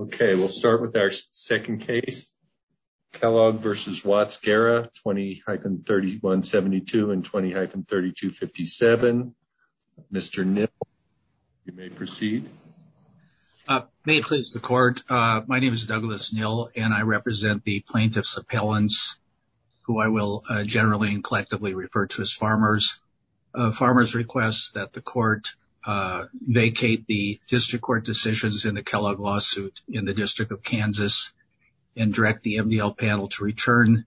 Okay, we'll start with our second case. Kellogg v. Watts Guerra, 20-3172 and 20-3257. Mr. Nill, you may proceed. May it please the court, my name is Douglas Nill and I represent the plaintiff's appellants, who I will generally and collectively refer to as farmers. Farmers request that the court vacate the district court decisions in the Kellogg lawsuit in the District of Kansas and direct the MDL panel to return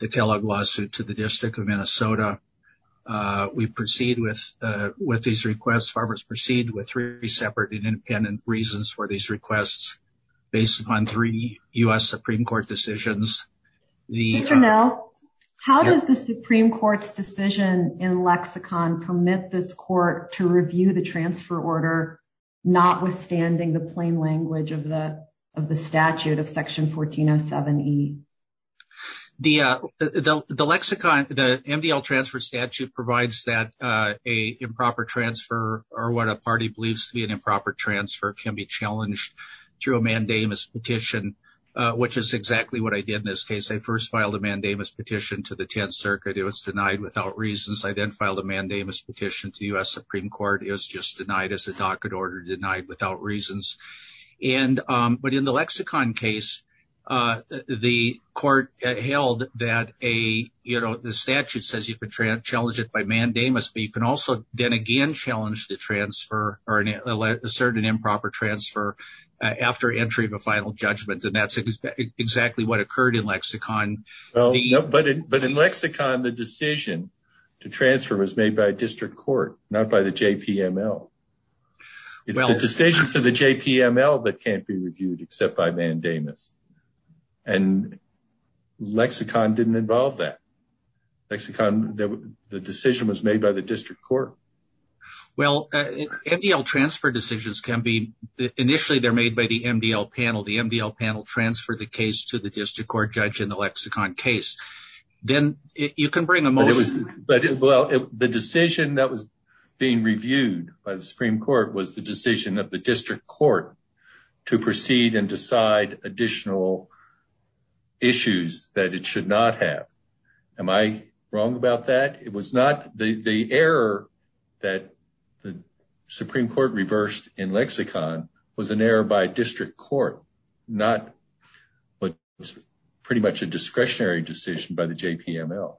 the Kellogg lawsuit to the District of Minnesota. We proceed with these requests, farmers proceed with three separate and independent reasons for these requests based upon three U.S. Supreme Court decisions. Mr. Nill, how does the Supreme Court's decision in lexicon permit this court to review the transfer order, notwithstanding the plain language of the statute of Section 1407E? The lexicon, the MDL transfer statute provides that a improper transfer or what a party believes to be an improper transfer can be challenged through a mandamus petition, which is exactly what I did in this case. I first filed a mandamus petition to the 10th Circuit, it was denied without reasons. I then filed a mandamus petition to the U.S. Supreme Court, it was just denied as a docket order, denied without reasons. But in the lexicon case, the court held that the statute says you can challenge it by mandamus, but you can also then again challenge the transfer or assert an improper transfer after entry of a final judgment, and that's exactly what occurred in lexicon. But in lexicon, the decision to transfer was made by a district court, not by the JPML. It's a decision for the JPML that can't be reviewed except by mandamus, and lexicon didn't involve that. Lexicon, the decision was made by the district court. Well, MDL transfer decisions can be, initially they're made by the MDL panel. The MDL panel transferred the case to the district court judge in the lexicon case. Then you can bring them over. The decision that was being reviewed by the Supreme Court was the decision of the district court to proceed and decide additional issues that it should not have. Am I wrong about that? The error that the Supreme Court reversed in lexicon was an error by district court, not what was pretty much a discretionary decision by the JPML.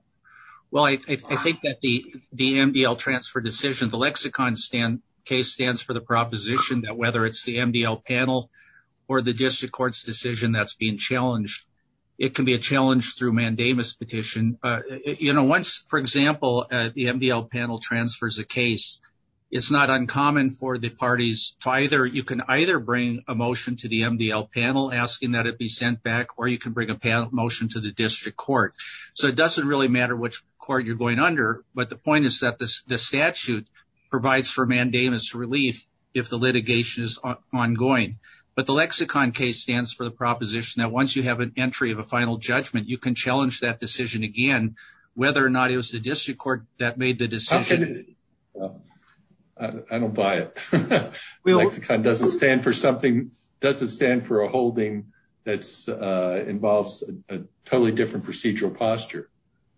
Well, I think that the MDL transfer decision, the lexicon case stands for the proposition that whether it's the MDL panel or the district court's decision that's being challenged, it can be a challenge through mandamus petition. Once, for example, the MDL panel transfers a case, it's not uncommon for the parties to either, you can either bring a motion to the MDL panel asking that it be sent back or you can bring a motion to the district court. So it doesn't really matter which court you're going under, but the point is that the statute provides for mandamus relief if the litigation is ongoing. But the lexicon case stands for the proposition that once you have an entry of a final judgment, you can challenge that decision again, whether or not it was the district court that made the decision. I don't buy it. The lexicon doesn't stand for something, doesn't stand for a holding that involves a totally different procedural posture,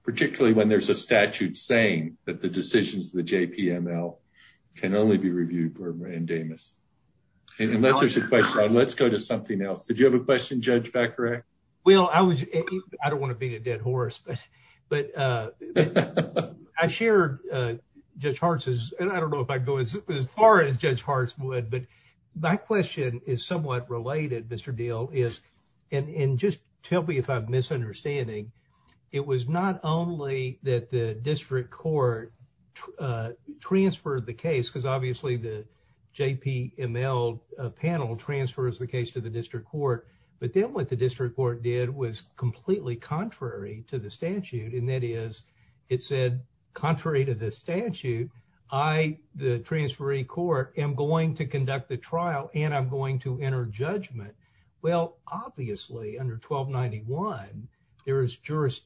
particularly when there's a statute saying that the decisions of the JPML can only be reviewed for mandamus. Unless there's a question, let's go to something else. Did you have a question, Judge Becker? Well, I don't want to be a dead horse, but I shared Judge Hart's, and I don't know if I'd go as far as Judge Hart's would, but my question is somewhat related, Mr. Diehl, and just tell me if I'm misunderstanding. It was not only that the district court transferred the case, because obviously the JPML panel transfers the case to the district court, but then what the district court did was completely contrary to the statute, and that is, it said, contrary to the statute, I, the transferee court, am going to conduct the trial, and I'm going to enter judgment. Well, obviously, under 1291, there is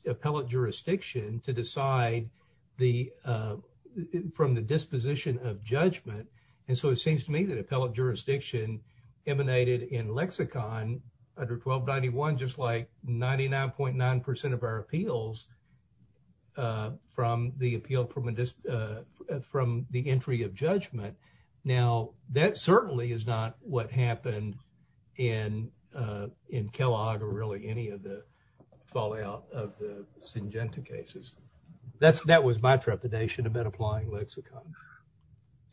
appellate jurisdiction to decide from the disposition of judgment, and so it seems to me that appellate jurisdiction emanated in lexicon under 1291, just like 99.9% of our appeals from the entry of judgment. Now, that certainly is not what happened in Kellogg or really any of the fallout of the Syngenta cases. That was my trepidation about applying lexicon.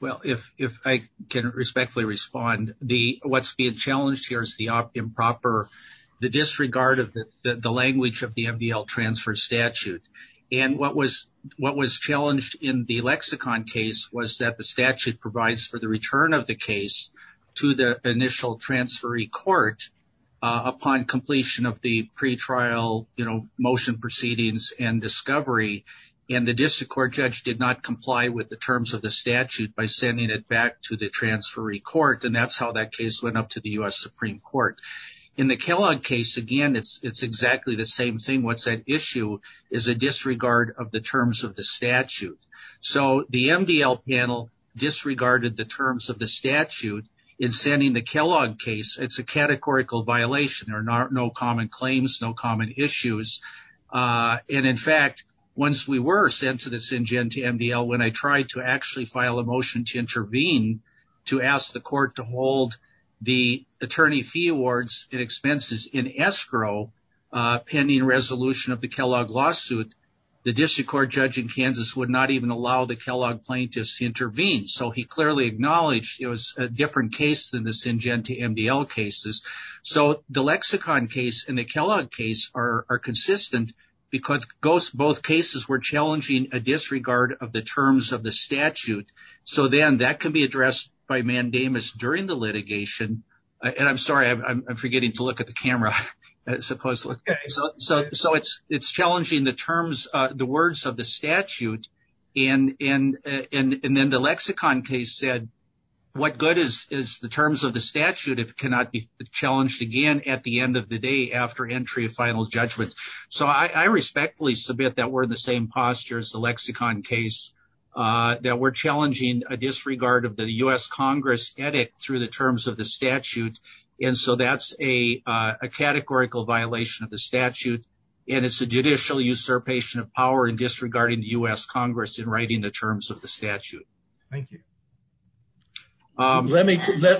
Well, if I can respectfully respond, what's being challenged here is the improper, the disregard of the language of the MDL transfer statute, and what was challenged in the lexicon case was that the statute provides for the return of the case to the initial transferee court upon completion of the pretrial motion proceedings and discovery, and the district court judge did not comply with the terms of the statute by sending it back to the transferee court, and that's how that case went up to the U.S. Supreme Court. In the Kellogg case, again, it's exactly the same thing. What's at issue is a disregard of the terms of the statute, so the MDL panel disregarded the terms of the statute in sending the Kellogg case. It's a categorical violation. There are no common claims, no common issues, and in fact, once we were sent to the Syngenta MDL, when I tried to actually file a motion to intervene to ask the court to hold the attorney fee awards and expenses in escrow pending resolution of the Kellogg lawsuit, the district court judge in Kansas would not even allow the Kellogg plaintiffs to intervene, so he clearly acknowledged it was a different case than the Syngenta MDL cases, so the lexicon case and the Kellogg case are consistent because both cases were challenging a disregard of the terms of the statute, so then that can be addressed by mandamus during the litigation, and I'm sorry, I'm forgetting to look at the camera. So it's challenging the terms, the words of the statute, and then the lexicon case said what good is the terms of the statute if it cannot be challenged again at the end of the day after entry of final judgment, so I respectfully submit that we're in the same posture as the lexicon case, that we're challenging a disregard of the U.S. Congress edit through the terms of the statute, and so that's a categorical violation of the statute, and it's a judicial usurpation of power in disregarding the U.S. Congress in writing the terms of the statute. Thank you. Thank you. Thank you.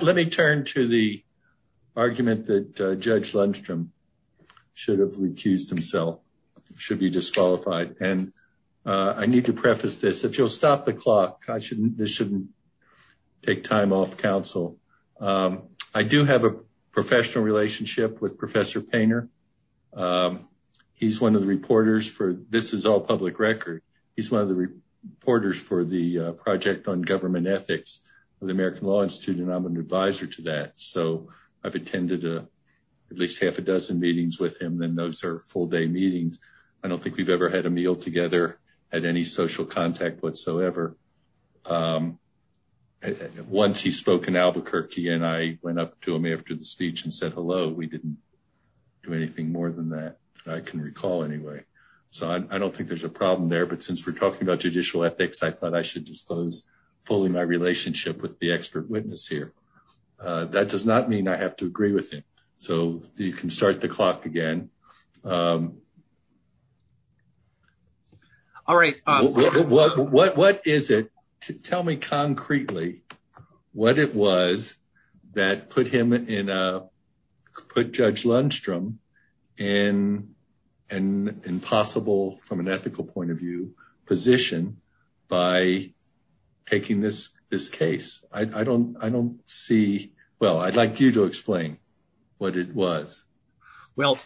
So I don't think there's a problem there, but since we're talking about judicial ethics, I thought I should disclose fully my relationship with the expert witness here. That does not mean I have to agree with you, so you can start the clock again. All right. What is it? Tell me concretely what it was that put him in a, put Judge Lundstrom in an impossible, from an ethical point of view, position by taking this case. I don't see, well, I'd like you to explain what it was. Well,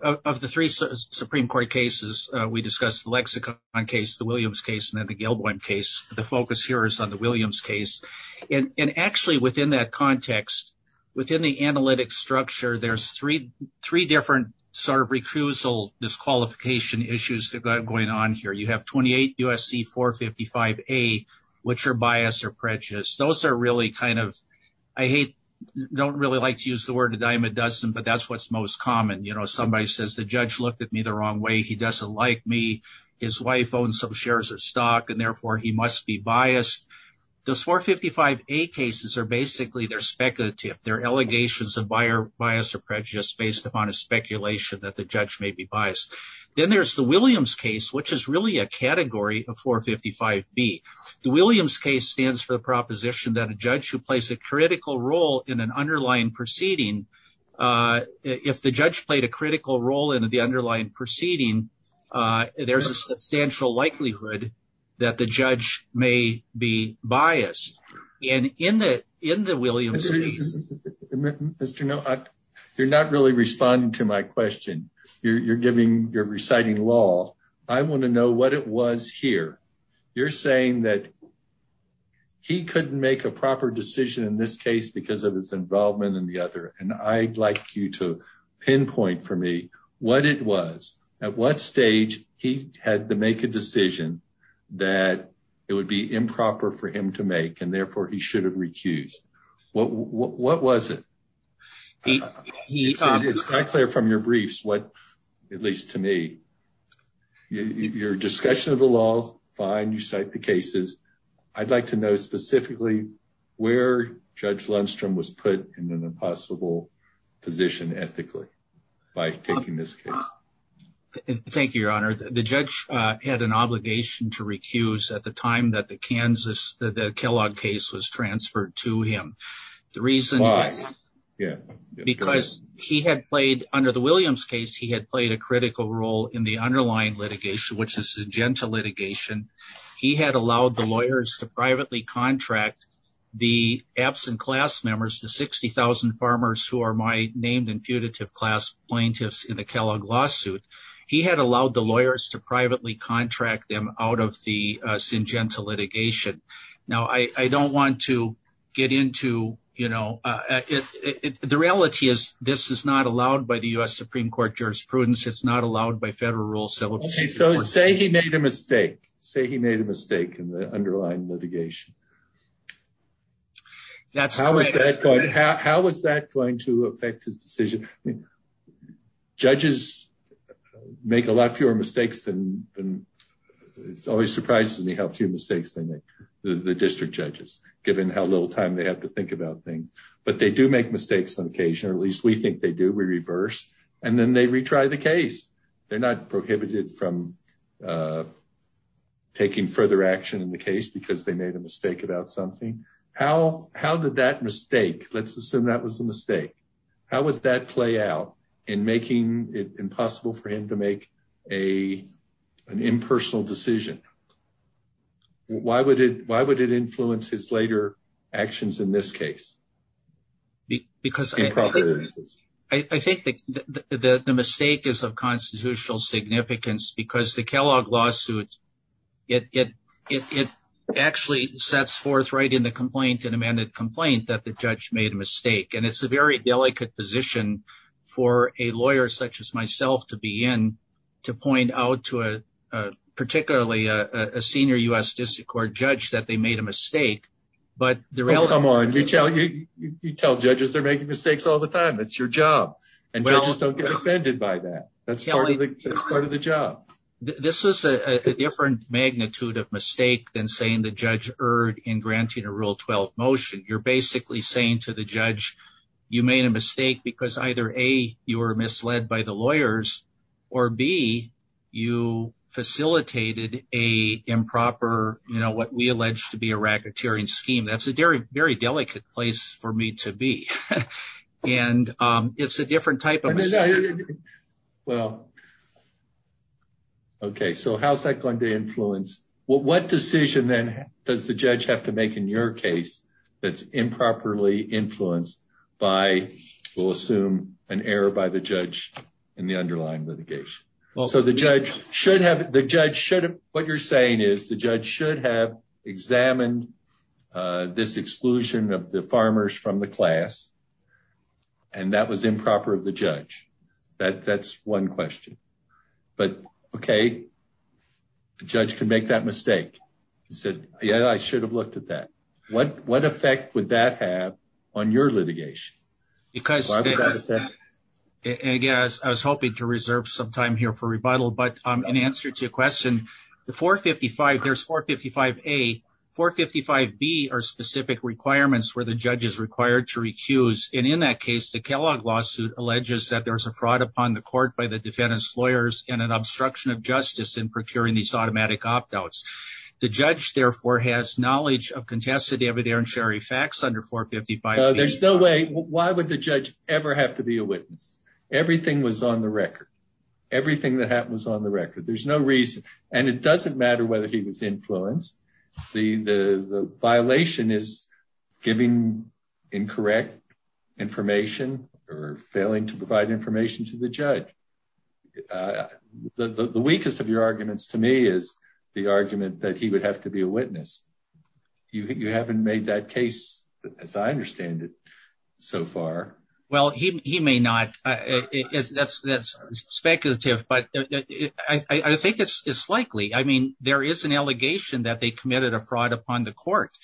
of the three Supreme Court cases, we discussed the Lexicon case, the Williams case, and then the Gilboim case. The focus here is on the Williams case. And actually within that context, within the analytic structure, there's three different sort of recusal disqualification issues that are going on here. You have 28 U.S.C. 455A, which are bias or prejudice. Those are really kind of, I hate, don't really like to use the word a dime a dozen, but that's what's most common. You know, somebody says the judge looked at me the wrong way. He doesn't like me. His wife owns some shares of stock, and therefore he must be biased. Those 455A cases are basically, they're speculative. They're allegations of bias or prejudice based upon a speculation that the judge may be biased. Then there's the Williams case, which is really a category of 455B. The Williams case stands for the proposition that a judge who plays a critical role in an underlying proceeding, if the judge played a critical role in the underlying proceeding, there's a substantial likelihood that the judge may be biased. And in the Williams case... Mr. Neal, you're not really responding to my question. You're giving, you're reciting law. I want to know what it was here. You're saying that he couldn't make a proper decision in this case because of his involvement in the other, and I'd like you to pinpoint for me what it was. At what stage he had to make a decision that it would be improper for him to make, and therefore he should have recused. What was it? It's quite clear from your briefs what, at least to me, your discussion of the law, fine, you cite the cases. I'd like to know specifically where Judge Lundstrom was put in an impossible position ethically by taking this case. Thank you, Your Honor. The judge had an obligation to recuse at the time that the Kansas, that the Kellogg case was transferred to him. Why? Because he had played, under the Williams case, he had played a critical role in the underlying litigation, which is the Syngenta litigation. He had allowed the lawyers to privately contract the absent class members, the 60,000 farmers who are my named and putative class plaintiffs in the Kellogg lawsuit. He had allowed the lawyers to privately contract them out of the Syngenta litigation. Now, I don't want to get into, you know, the reality is this is not allowed by the U.S. Supreme Court jurisprudence. It's not allowed by federal rules. So say he made a mistake, say he made a mistake in the underlying litigation. How is that going to affect the decision? Judges make a lot fewer mistakes than, it always surprises me how few mistakes they make, the district judges, given how little time they have to think about things. But they do make mistakes on occasion. At least we think they do. We reverse. And then they retry the case. They're not prohibited from taking further action in the case because they made a mistake about something. How did that mistake, let's assume that was a mistake, how would that play out in making it impossible for him to make an impersonal decision? Why would it influence his later actions in this case? Because I think the mistake is of constitutional significance because the Kellogg lawsuit, it actually sets forthright in the complaint, an amended complaint, that the judge made a mistake. And it's a very delicate position for a lawyer such as myself to be in to point out to a particularly a senior U.S. district court judge that they made a mistake. Well, come on. You tell judges they're making mistakes all the time. That's your job. And judges don't get offended by that. That's part of the job. This is a different magnitude of mistake than saying the judge erred in granting a Rule 12 motion. You're basically saying to the judge you made a mistake because either, A, you were misled by the lawyers, or, B, you facilitated a improper, you know, what we allege to be a racketeering scheme. That's a very delicate place for me to be. And it's a different type of mistake. Well, okay. So how's that going to influence? What decision, then, does the judge have to make in your case that's improperly influenced by, we'll assume, an error by the judge in the underlying litigation? So the judge should have, what you're saying is the judge should have examined this exclusion of the farmers from the class, and that was improper of the judge. That's one question. But, okay, the judge can make that mistake. He said, yeah, I should have looked at that. What effect would that have on your litigation? Again, I was hoping to reserve some time here for rebuttal, but in answer to your question, the 455, there's 455A. 455B are specific requirements where the judge is required to recuse, and in that case, the Kellogg lawsuit alleges that there's a fraud upon the court by the defendant's lawyers and an obstruction of justice in procuring these automatic opt-outs. The judge, therefore, has knowledge of contested evidentiary facts under 455B. There's no way, why would the judge ever have to be a witness? Everything was on the record. Everything that happened was on the record. There's no reason, and it doesn't matter whether he was influenced. The violation is giving incorrect information or failing to provide information to the judge. The weakest of your arguments to me is the argument that he would have to be a witness. You haven't made that case, as I understand it, so far. Well, he may not. That's speculative, but I think it's likely. I mean, there is an allegation that they committed a fraud upon the court.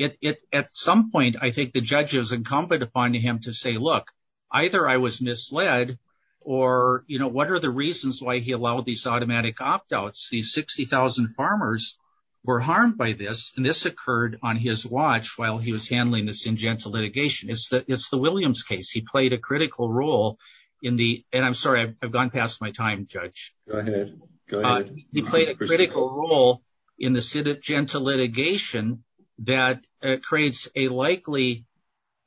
At some point, I think the judge is incumbent upon him to say, look, either I was misled, or what are the reasons why he allowed these automatic opt-outs? These 60,000 farmers were harmed by this, and this occurred on his watch while he was handling this gentle litigation. It's the Williams case. He played a critical role in the – and I'm sorry, I've gone past my time, Judge. Go ahead. He played a critical role in the gentle litigation that creates a likely –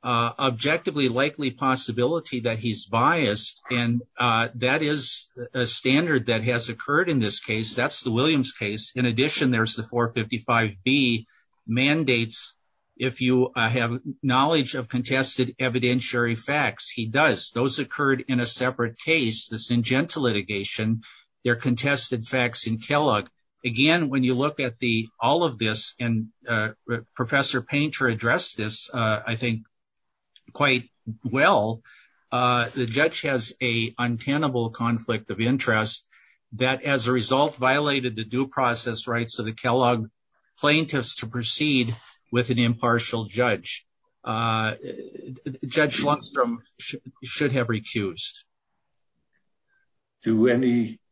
objectively likely possibility that he's biased, and that is a standard that has occurred in this case. That's the Williams case. In addition, there's the 455B mandates. If you have knowledge of contested evidentiary facts, he does. Those occurred in a separate case. This is in gentle litigation. There are contested facts in Kellogg. Again, when you look at the – all of this, and Professor Painter addressed this, I think, quite well. The judge has a untenable conflict of interest that as a result violated the due process rights of the Kellogg plaintiffs to proceed with an impartial judge. Judge Lunstrom should have recused. Do any –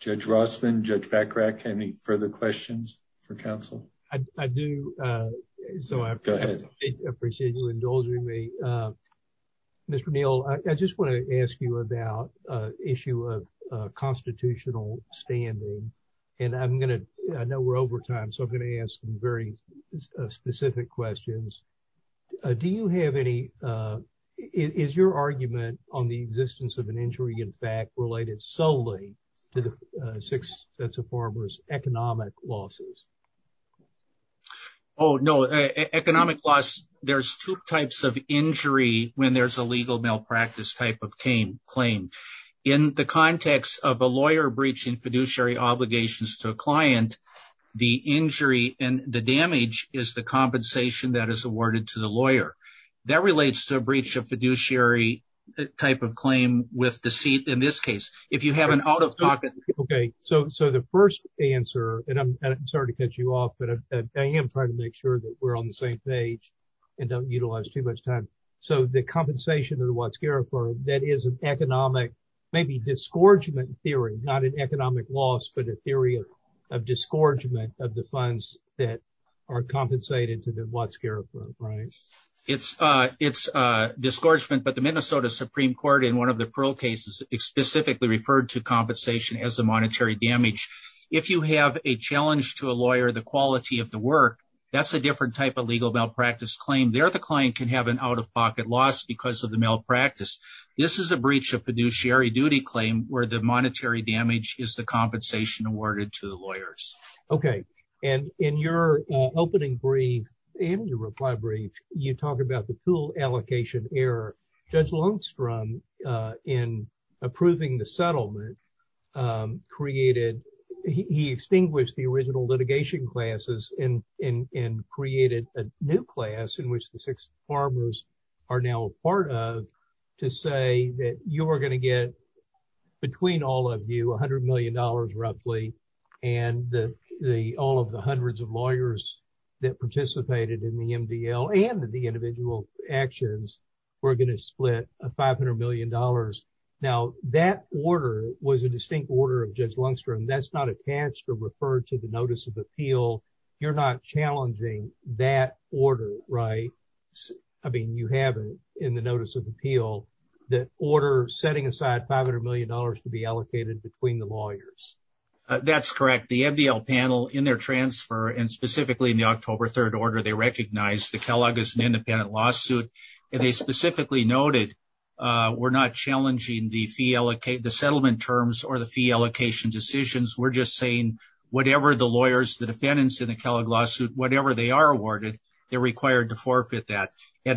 Judge Rossman, Judge Packrack, any further questions for counsel? I do. Go ahead. I appreciate you indulging me. Mr. Neal, I just want to ask you about an issue of constitutional standing, and I'm going to – I know we're over time, so I'm going to ask some very specific questions. Do you have any – is your argument on the existence of an injury in fact related solely to the six sets of farmers' economic losses? Oh, no. Economic loss – there's two types of injury when there's a legal malpractice type of claim. In the context of a lawyer breaching fiduciary obligations to a client, the injury and the damage is the compensation that is awarded to the lawyer. That relates to a breach of fiduciary type of claim with deceit in this case. If you have an – Okay. So the first answer – and I'm sorry to cut you off, but I am trying to make sure that we're on the same page and don't utilize too much time. So the compensation of the Watts-Garifaux, that is an economic – maybe disgorgement theory, not an economic loss, but a theory of disgorgement of the funds that are compensated to the Watts-Garifaux, right? It's disgorgement, but the Minnesota Supreme Court in one of the Pearl cases specifically referred to compensation as a monetary damage. If you have a challenge to a lawyer, the quality of the work, that's a different type of legal malpractice claim. There the client can have an out-of-pocket loss because of the malpractice. This is a breach of fiduciary duty claim where the monetary damage is the compensation awarded to the lawyers. Okay. And in your opening brief and your reply brief, you talk about the pool allocation error. Judge Lundstrom, in approving the settlement, created – he extinguished the original litigation classes and created a new class in which the six farmers are now a part of to say that you are going to get, between all of you, $100 million roughly, and all of the hundreds of lawyers that participated in the MDL and the individual actions were going to split $500 million. Now, that order was a distinct order of Judge Lundstrom. That's not attached or referred to the Notice of Appeal. You're not challenging that order, right? I mean, you have in the Notice of Appeal that order setting aside $500 million to be allocated between the lawyers. That's correct. The MDL panel, in their transfer, and specifically in the October 3rd order, they recognized the Kellogg as an independent lawsuit. They specifically noted we're not challenging the settlement terms or the fee allocation decisions. We're just saying whatever the lawyers, the defendants in the Kellogg lawsuit, whatever they are awarded, they're required to forfeit that. I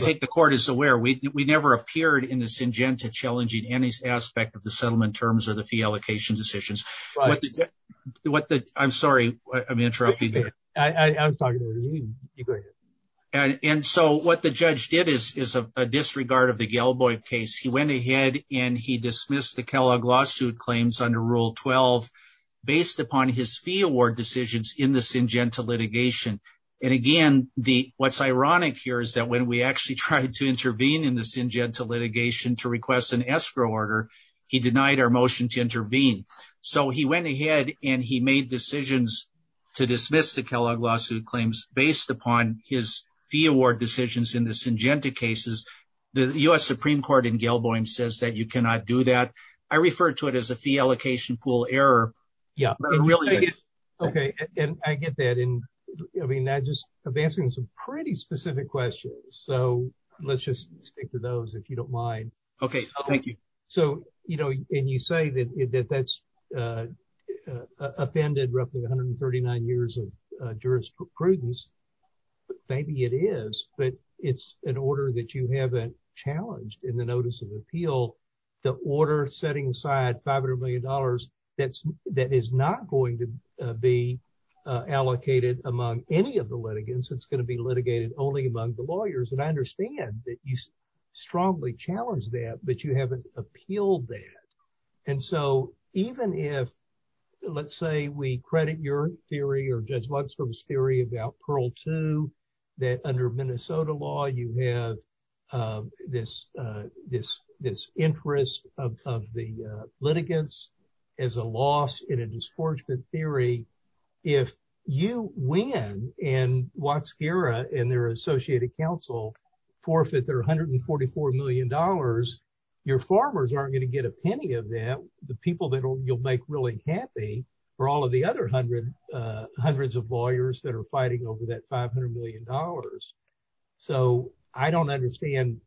think the court is aware. We never appeared in the Syngenta challenging any aspect of the settlement terms or the fee allocation decisions. I'm sorry. I'm interrupting you there. I'm sorry. And so what the judge did is a disregard of the Gelboy case. He went ahead and he dismissed the Kellogg lawsuit claims under Rule 12 based upon his fee award decisions in the Syngenta litigation. And again, what's ironic here is that when we actually tried to intervene in the Syngenta litigation to request an escrow order, he denied our motion to intervene. So he went ahead and he made decisions to dismiss the Kellogg lawsuit claims based upon his fee award decisions in the Syngenta cases. The U.S. Supreme Court in Gelboy says that you cannot do that. I refer to it as a fee allocation pool error. Okay. And I get that. And I mean, I just am answering some pretty specific questions. So let's just stick to those if you don't mind. Okay. Thank you. So, you know, and you say that that's offended roughly 139 years of jurisprudence. Maybe it is. But it's an order that you haven't challenged in the notice of appeal. The order setting aside $500 million that is not going to be allocated among any of the litigants. It's going to be litigated only among the lawyers. And I understand that you strongly challenged that, but you haven't appealed that. And so even if, let's say, we credit your theory or Judge Luxford's theory about Pearl 2, that under Minnesota law, you have this interest of the litigants as a loss in a disgorgement theory. If you win and Waxkera and their Associated Council forfeit their $144 million, your farmers aren't going to get a penny of that. The people that you'll make really happy for all of the other hundreds of lawyers that are fighting over that $500 million. So I don't understand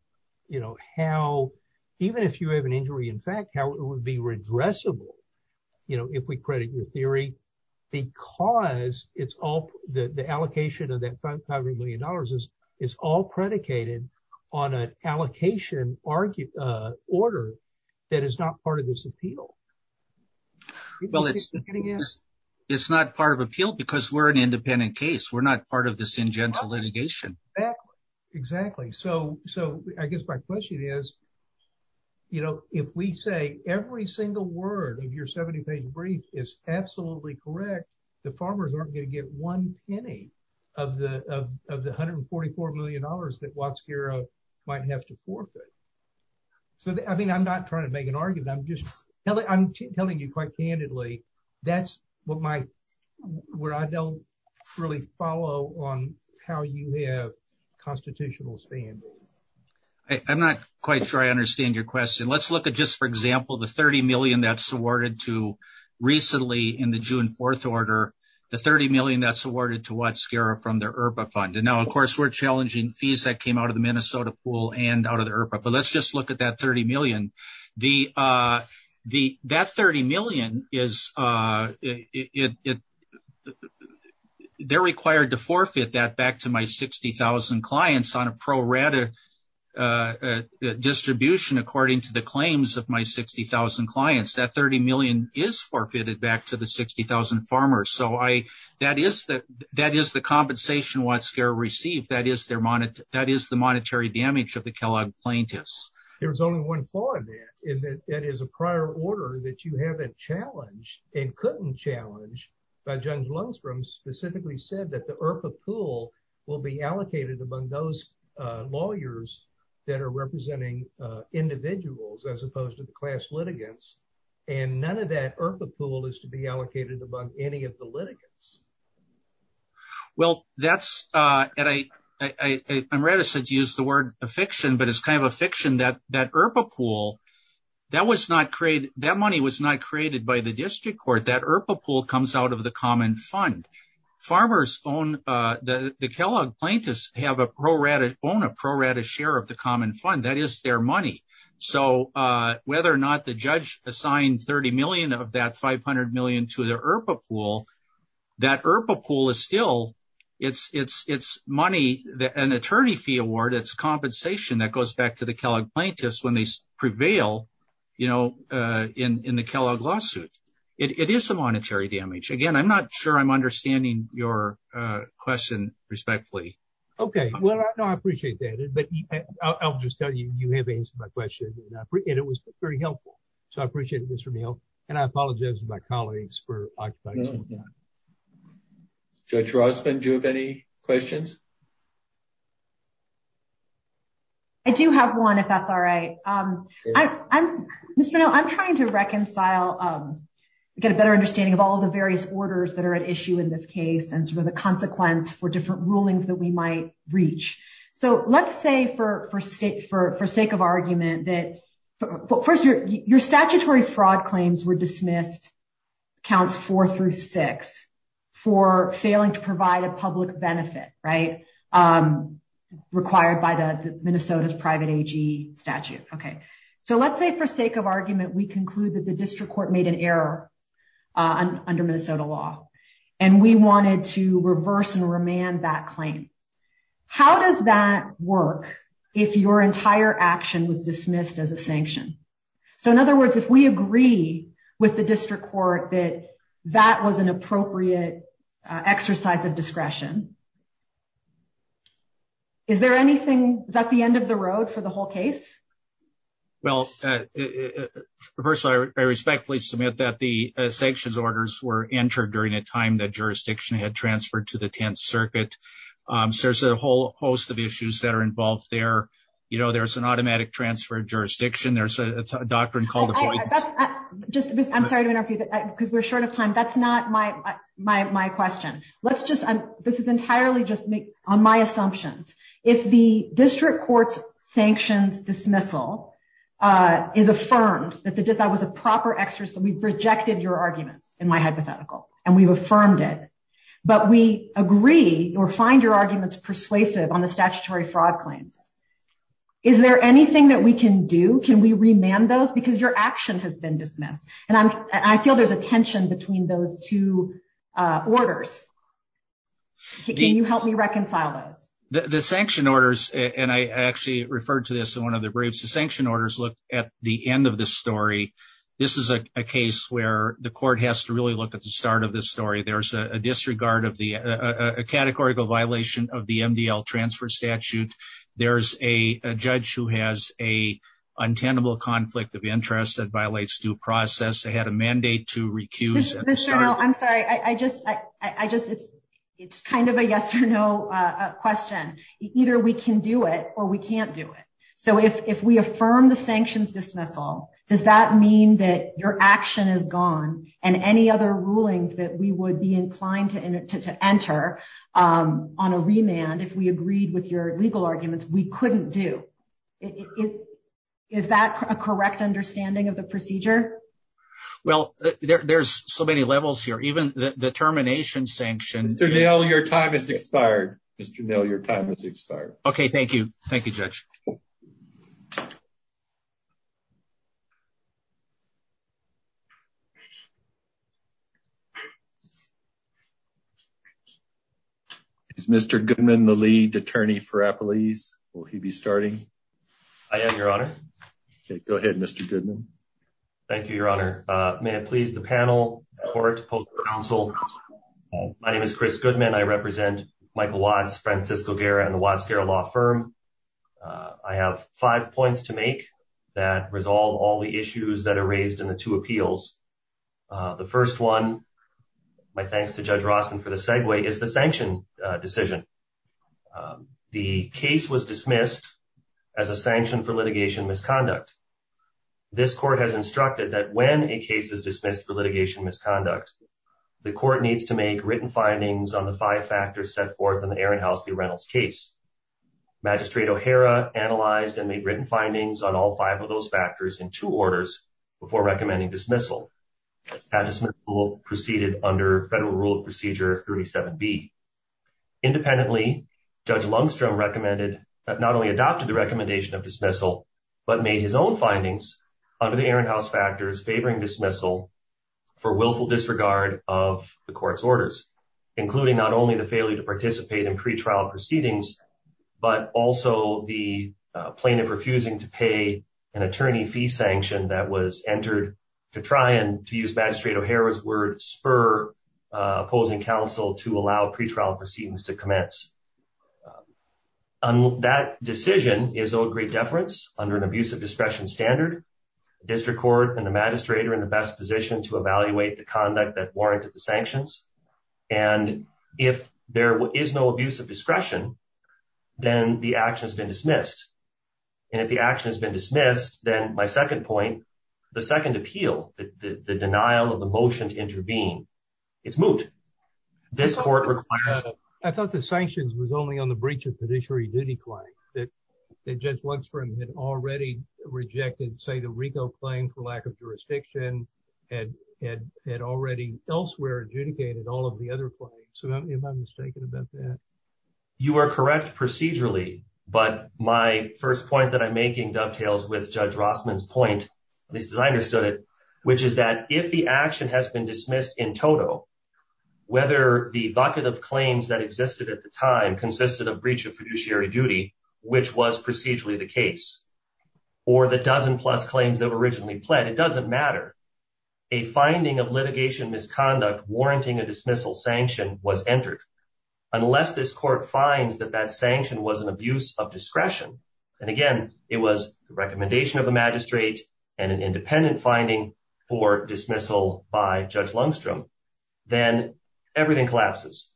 how, even if you have an injury, in fact, how it would be redressable if we credit your theory, because it's all the allocation of that $500 million is all predicated on an allocation order that is not part of this appeal. It's not part of appeal because we're an independent case. We're not part of this injunctive litigation. Exactly. So I guess my question is, if we say every single word of your 70-page brief is absolutely correct, the farmers aren't going to get one penny of the $144 million that Waxkera might have to forfeit. I'm not trying to make an argument. I'm telling you quite candidly, that's where I don't really follow on how you have constitutional standing. I'm not quite sure I understand your question. Let's look at just, for example, the $30 million that's awarded to, recently in the June 4th order, the $30 million that's awarded to Waxkera from their IRPA fund. Now, of course, we're challenging fees that came out of the Minnesota pool and out of the IRPA, but let's just look at that $30 million. That $30 million, they're required to forfeit that back to my 60,000 clients on a pro-rata distribution according to the claims of my 60,000 clients. That $30 million is forfeited back to the 60,000 farmers. That is the compensation Waxkera received. That is the monetary damage of the Kellogg plaintiffs. There's only one flaw in that. It is a prior order that you have a challenge and couldn't challenge, but Judge Lundstrom specifically said that the IRPA pool will be allocated among those lawyers that are representing individuals as opposed to the class litigants, and none of that IRPA pool is to be allocated among any of the litigants. Well, I'm ready to use the word affixion, but it's kind of a fiction that IRPA pool, that money was not created by the district court. That IRPA pool comes out of the common fund. The Kellogg plaintiffs own a pro-rata share of the common fund. That is their money. Whether or not the judge assigned $30 million of that $500 million to the IRPA pool, that IRPA pool is still money, an attorney fee award. It's compensation that goes back to the Kellogg plaintiffs when they prevail in the Kellogg lawsuit. It is a monetary damage. Again, I'm not sure I'm understanding your question respectfully. Okay. Well, I appreciate that. I'll just tell you, you have answered my question, and it was very helpful. So I appreciate it, Mr. Neal, and I apologize to my colleagues for— Judge Rossman, do you have any questions? I do have one, if that's all right. Mr. Neal, I'm trying to reconcile, get a better understanding of all the various orders that are at issue in this case and sort of the consequence for different rulings that we might reach. So let's say for sake of argument that—first, your statutory fraud claims were dismissed, counts four through six, for failing to provide a public benefit, right, required by Minnesota's private AG statute. Okay. So let's say for sake of argument we conclude that the district court made an error under Minnesota law, and we wanted to reverse and remand that claim. How does that work if your entire action was dismissed as a sanction? So in other words, if we agree with the district court that that was an appropriate exercise of discretion, is there anything—is that the end of the road for the whole case? Well, first, I respectfully submit that the sanctions orders were entered during a time that jurisdiction had transferred to the Tenth Circuit. So there's a whole host of issues that are involved there. You know, there's an automatic transfer of jurisdiction. There's a doctrine called— I'm sorry to interrupt you because we're short of time. That's not my question. Let's just—this is entirely just on my assumptions. If the district court's sanctions dismissal is affirmed that that was a proper exercise—we've rejected your argument in my hypothetical, and we've affirmed it, but we agree or find your arguments persuasive on the statutory fraud claims, is there anything that we can do? Can we remand those? Because your action has been dismissed. And I feel there's a tension between those two orders. Can you help me reconcile those? The sanction orders—and I actually referred to this in one of the briefs—the sanction orders look at the end of the story. This is a case where the court has to really look at the start of the story. There's a disregard of the—a categorical violation of the MDL transfer statute. There's a judge who has a untenable conflict of interest that violates due process. They had a mandate to recuse— Mr. Murrow, I'm sorry. I just—it's kind of a yes or no question. Either we can do it or we can't do it. So if we affirm the sanctions dismissal, does that mean that your action is gone and any other rulings that we would be inclined to enter on a remand, if we agreed with your legal arguments, we couldn't do? Is that a correct understanding of the procedure? Well, there's so many levels here. Even the termination sanction— Mr. Mill, your time has expired. Mr. Mill, your time has expired. Okay, thank you. Thank you, Judge. Is Mr. Goodman the lead attorney for Appalachia? Will he be starting? I am, Your Honor. Okay, go ahead, Mr. Goodman. Thank you, Your Honor. May it please the panel, the court, the council. My name is Chris Goodman. I represent Michael Watts, Francisco Guerra, and the Watts-Guerra Law Firm. I have five points to make that resolve all the issues that are raised in the two appeals. The first one, my thanks to Judge Rossman for the segue, is the sanction decision. The case was dismissed as a sanction for litigation misconduct. This court has instructed that when a case is dismissed for litigation misconduct, the court needs to make written findings on the five factors set forth in the Ehrenhaus v. Reynolds case. Magistrate O'Hara analyzed and made written findings on all five of those factors in two orders before recommending dismissal. That dismissal proceeded under Federal Rule of Procedure 37B. Independently, Judge Lungstrom recommended, not only adopted the recommendation of dismissal, but made his own findings under the Ehrenhaus factors favoring dismissal for willful disregard of the court's orders, including not only the failure to participate in pretrial proceedings, but also the plaintiff refusing to pay an attorney fee sanction that was entered to try and, to use Magistrate O'Hara's words, spur opposing counsel to allow pretrial proceedings to commence. That decision is of great deference under an abuse of discretion standard. The district court and the magistrate are in the best position to evaluate the conduct that warranted the sanctions. And if there is no abuse of discretion, then the action has been dismissed. And if the action has been dismissed, then my second point, the second appeal, the denial of the motion to intervene, is moot. This court requires... I thought the sanctions was only on the breach of fiduciary duty claim, that Judge Lungstrom had already rejected, say, the RICO claim for lack of jurisdiction, and had already elsewhere adjudicated all of the other claims. So am I mistaken about that? You are correct procedurally, but my first point that I'm making dovetails with Judge Rossman's point, as I understood it, which is that if the action has been dismissed in total, whether the bucket of claims that existed at the time consisted of breach of fiduciary duty, which was procedurally the case, or the dozen-plus claims that were originally pled, it doesn't matter. A finding of litigation misconduct warranting a dismissal sanction was entered. Unless this court finds that that sanction was an abuse of discretion, and again, it was the recommendation of the magistrate and an independent finding for dismissal by Judge Lungstrom, then everything collapses.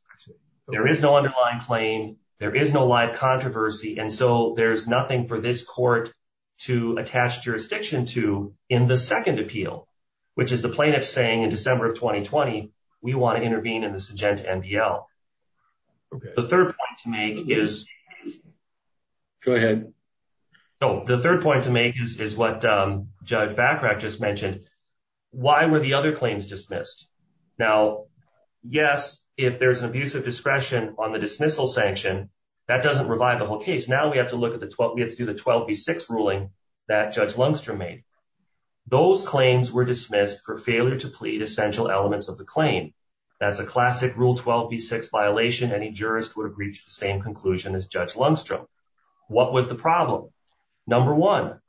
There is no underlying claim. There is no live controversy. And so there's nothing for this court to attach jurisdiction to in the second appeal, which is the plaintiff saying in December of 2020, we want to intervene in this agenda MDL. The third point to make is what Judge Bachrach just mentioned. Why were the other claims dismissed? Now, yes, if there's an abuse of discretion on the dismissal sanction, that doesn't revive the whole case. Now we have to look at the 12B6 ruling that Judge Lungstrom made. Those claims were dismissed for failure to plead essential elements of the claim. That's a classic Rule 12B6 violation. Any jurist would have reached the same conclusion as Judge Lungstrom. What was the problem? Number one,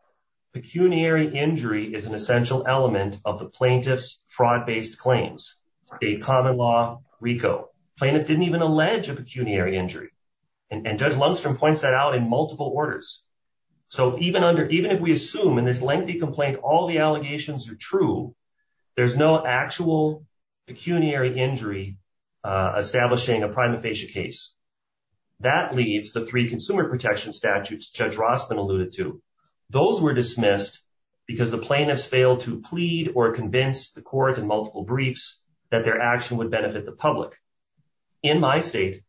pecuniary injury is an essential element of the plaintiff's fraud-based claims. A common law RICO. The plaintiff didn't even allege a pecuniary injury. And Judge Lungstrom points that out in multiple orders. So even if we assume in this lengthy complaint all the allegations are true, there's no actual pecuniary injury establishing a prima facie case. That leaves the three consumer protection statutes Judge Rossman alluded to. Those were dismissed because the plaintiffs failed to plead or convince the court in multiple briefs that their action would benefit the public. In my state,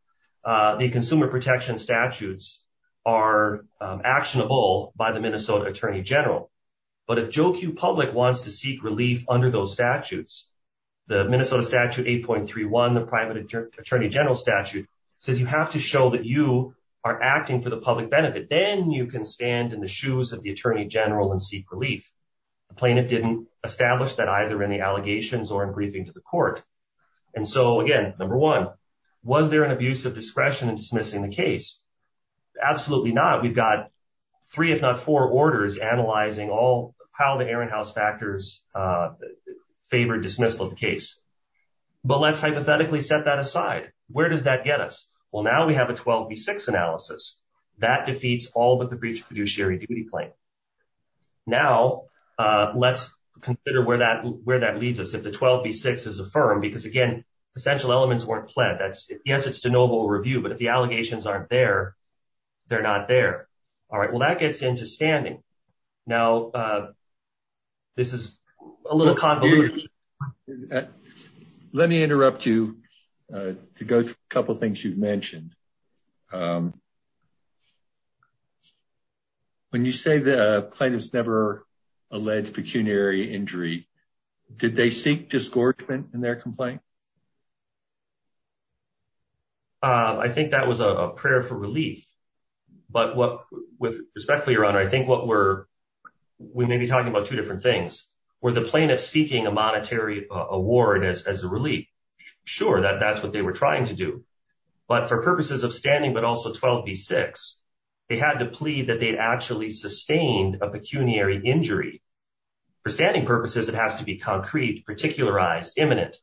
the consumer protection statutes are actionable by the Minnesota Attorney General. But if Joe Q Public wants to seek relief under those statutes, the Minnesota Statute 8.31, the private Attorney General statute, says you have to show that you are acting for the public benefit. Then you can stand in the shoes of the Attorney General and seek relief. The plaintiff didn't establish that either in the allegations or in briefing to the court. And so, again, number one, was there an abuse of discretion in dismissing the case? Absolutely not. We've got three if not four orders analyzing all how the Ehrenhaus factors favored dismissal of the case. But let's hypothetically set that aside. Where does that get us? Well, now we have a 12B6 analysis. That defeats all of the breach of fiduciary duty claims. Now, let's consider where that leads us, if the 12B6 is affirmed. Because, again, essential elements weren't fled. Yes, it's to noble review. But if the allegations aren't there, they're not there. All right, well, that gets into standing. Now, this is a little convoluted. Let me interrupt you to go through a couple of things you've mentioned. When you say the plaintiff's never alleged pecuniary injury, did they seek disgorgement in their complaint? I think that was a prayer for relief. But with respect to your honor, I think we may be talking about two different things. Were the plaintiff seeking a monetary award as a relief? Sure, that's what they were trying to do. But for purposes of standing, but also 12B6, they had to plead that they had actually sustained a pecuniary injury. For standing purposes, it has to be concrete, particularized, imminent.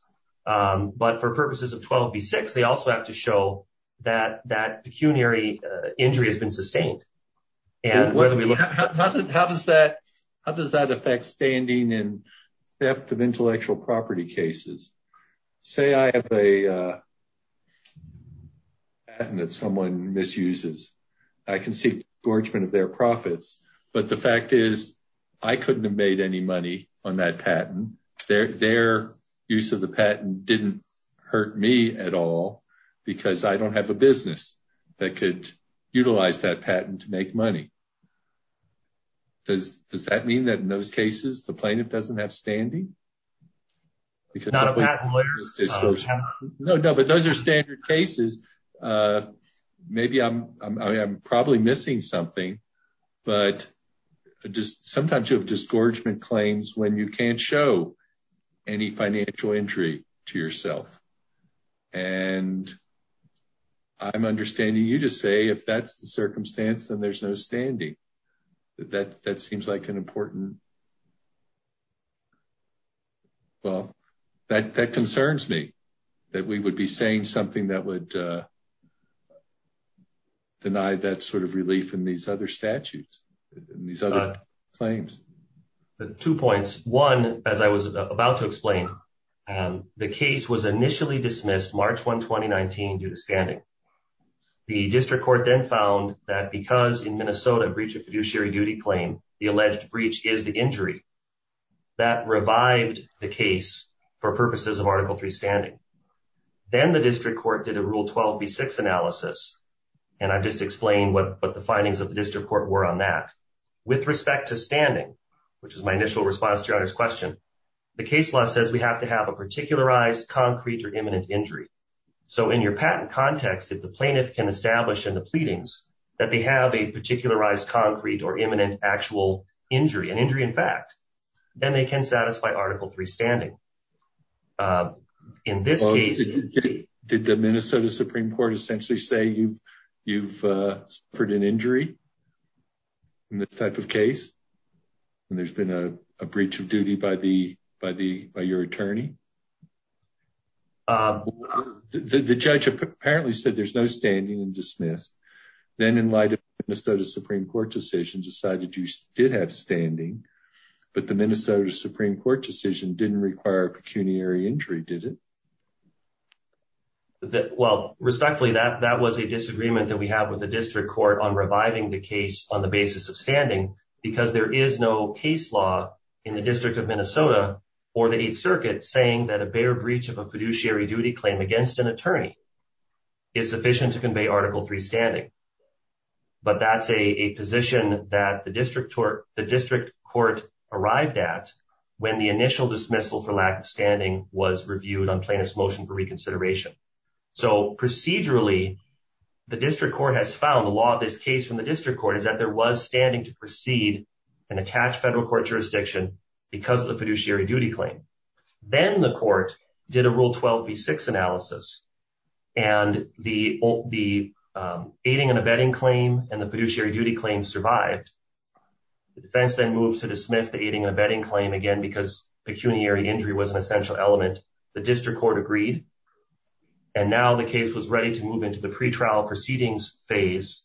But for purposes of 12B6, they also have to show that that pecuniary injury has been sustained. How does that affect standing in theft of intellectual property cases? Say I have a patent that someone misuses. I can seek disgorgement of their profits. But the fact is I couldn't have made any money on that patent. Their use of the patent didn't hurt me at all because I don't have a business that could utilize that patent to make money. Does that mean that in those cases the plaintiff doesn't have standing? No, but those are standard cases. Maybe I'm probably missing something. But sometimes you have disgorgement claims when you can't show any financial injury to yourself. And I'm understanding you to say if that's the circumstance, then there's no standing. That seems like an important... Well, that concerns me that we would be saying something that would deny that sort of relief in these other statutes, in these other claims. Two points. One, as I was about to explain, the case was initially dismissed March 1, 2019, due to standing. The district court then found that because in Minnesota a breach of fiduciary duty claim, the alleged breach is the injury, that revived the case for purposes of Article III standing. Then the district court did a Rule 12b-6 analysis, and I've just explained what the findings of the district court were on that. With respect to standing, which is my initial response to your question, the case law says we have to have a particularized, concrete, or imminent injury. So in your patent context, if the plaintiff can establish in the pleadings that they have a particularized, concrete, or imminent actual injury, an injury in fact, then they can satisfy Article III standing. In this case... Did the Minnesota Supreme Court essentially say you've heard an injury in this type of case, and there's been a breach of duty by your attorney? The judge apparently said there's no standing and dismissed. Then, in light of the Minnesota Supreme Court decision, decided you did have standing, but the Minnesota Supreme Court decision didn't require a pecuniary injury, did it? Well, respectfully, that was a disagreement that we have with the district court on reviving the case on the basis of standing, because there is no case law in the District of Minnesota or the Eighth Circuit saying that a bare breach of a fiduciary duty claim against an attorney is sufficient to convey Article III standing. But that's a position that the district court arrived at when the initial dismissal for lack of standing was reviewed on plaintiff's motion for reconsideration. So, procedurally, the district court has found, the law of this case from the district court, is that there was standing to proceed and attach federal court jurisdiction because of the fiduciary duty claim. Then the court did a Rule 12b-6 analysis, and the aiding and abetting claim and the fiduciary duty claim survived. The defense then moved to dismiss the aiding and abetting claim again because pecuniary injury was an essential element. The district court agreed, and now the case was ready to move into the pretrial proceedings phase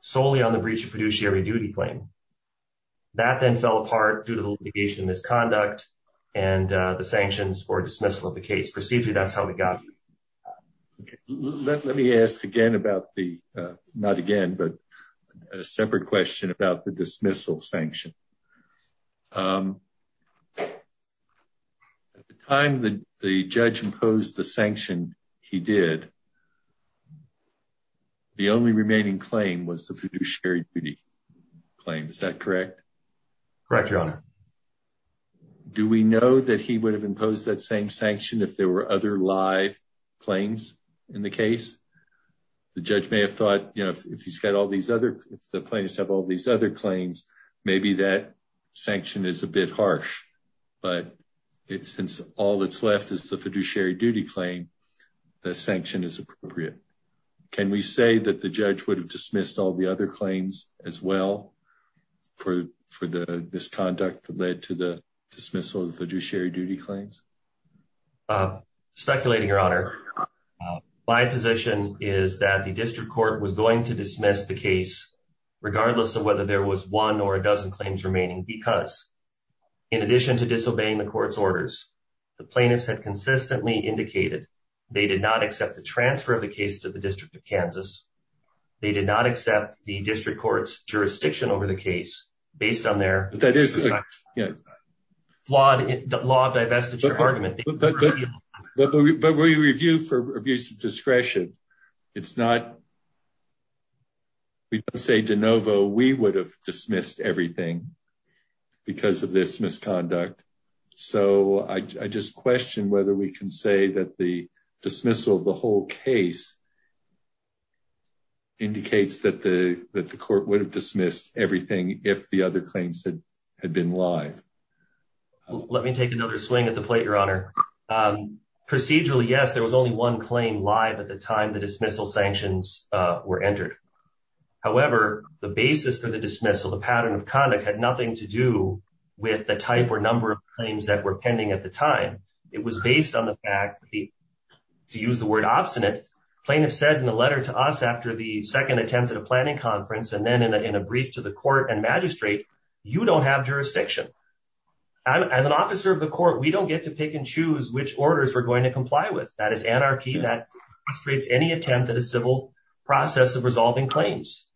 solely on the breach of fiduciary duty claim. That then fell apart due to litigation misconduct and the sanctions for dismissal of the case. Procedurally, that's how we got here. Let me ask again about the, not again, but a separate question about the dismissal sanction. At the time the judge imposed the sanction he did, the only remaining claim was the fiduciary duty claim. Is that correct? Correct, Your Honor. Do we know that he would have imposed that same sanction if there were other live claims in the case? The judge may have thought, you know, if he's got all these other, the plaintiffs have all these other claims, maybe that sanction is a bit harsh. But since all that's left is the fiduciary duty claim, the sanction is appropriate. Can we say that the judge would have dismissed all the other claims as well for the misconduct that led to the dismissal of the fiduciary duty claims? Speculating, Your Honor, my position is that the district court was going to dismiss the case, regardless of whether there was one or a dozen claims remaining. Because in addition to disobeying the court's orders, the plaintiffs had consistently indicated they did not accept the transfer of the case to the District of Kansas. They did not accept the district court's jurisdiction over the case, based on their law divestiture argument. But when you review for abuse of discretion, it's not, we can't say de novo, we would have dismissed everything because of this misconduct. So I just question whether we can say that the dismissal of the whole case indicates that the court would have dismissed everything if the other claims had been live. Let me take another swing at the plate, Your Honor. Procedurally, yes, there was only one claim live at the time the dismissal sanctions were entered. However, the basis for the dismissal, the pattern of conduct, had nothing to do with the type or number of claims that were pending at the time. It was based on the fact that, to use the word obstinate, plaintiffs said in the letter to us after the second attempt at a planning conference and then in a brief to the court and magistrate, you don't have jurisdiction. As an officer of the court, we don't get to pick and choose which orders we're going to comply with. That is anarchy. That creates any attempt at a civil process of resolving claims.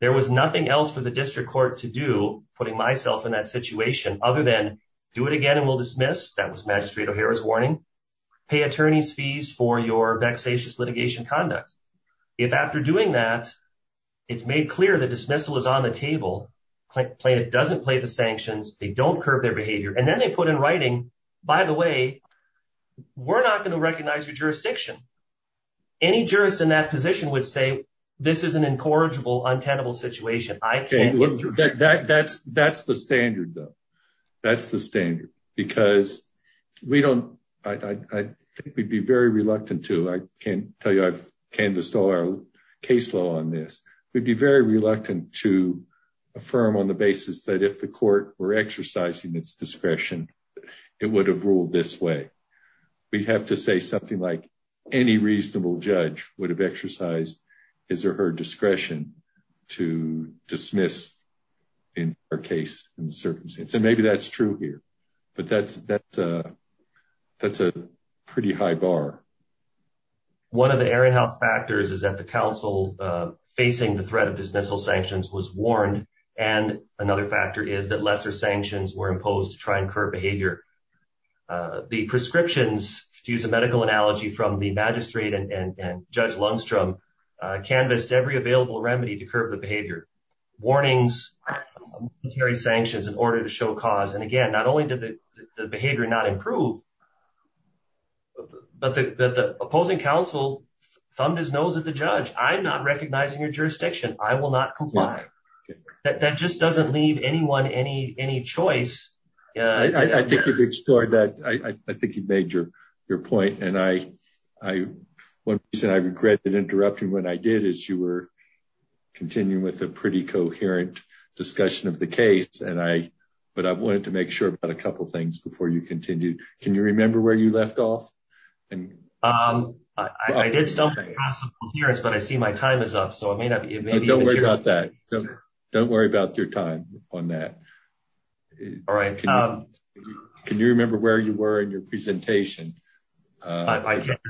There was nothing else for the district court to do, putting myself in that situation, other than do it again and we'll dismiss. That was Magistrate O'Hara's warning. Pay attorney's fees for your vexatious litigation conduct. If after doing that, it's made clear that dismissal is on the table, the plaintiff doesn't play the sanctions, they don't curb their behavior, and then they put in writing, by the way, we're not going to recognize your jurisdiction. Any jurist in that position would say this is an incorrigible, untenable situation. That's the standard, though. That's the standard. Because we don't, I think we'd be very reluctant to, I can tell you, I've canvassed all our case law on this. We'd be very reluctant to affirm on the basis that if the court were exercising its discretion, it would have ruled this way. We'd have to say something like, any reasonable judge would have exercised his or her discretion to dismiss in our case and circumstance. And maybe that's true here. But that's a pretty high bar. One of the area health factors is that the counsel facing the threat of dismissal sanctions was warned. And another factor is that lesser sanctions were imposed to try and curb behavior. The prescriptions, to use a medical analogy from the magistrate and Judge Lundstrom, canvassed every available remedy to curb the behavior. Warnings, military sanctions in order to show cause. And again, not only did the behavior not improve, but the opposing counsel thumbed his nose at the judge. I'm not recognizing your jurisdiction. I will not comply. That just doesn't leave anyone any choice. I think you've made your point. And one reason I regret interrupting what I did is you were continuing with a pretty coherent discussion of the case. But I wanted to make sure about a couple things before you continued. Can you remember where you left off? I did stop at a possible clearance, but I see my time is up. Don't worry about that. Don't worry about your time on that. All right. Can you remember where you were in your presentation? I can't.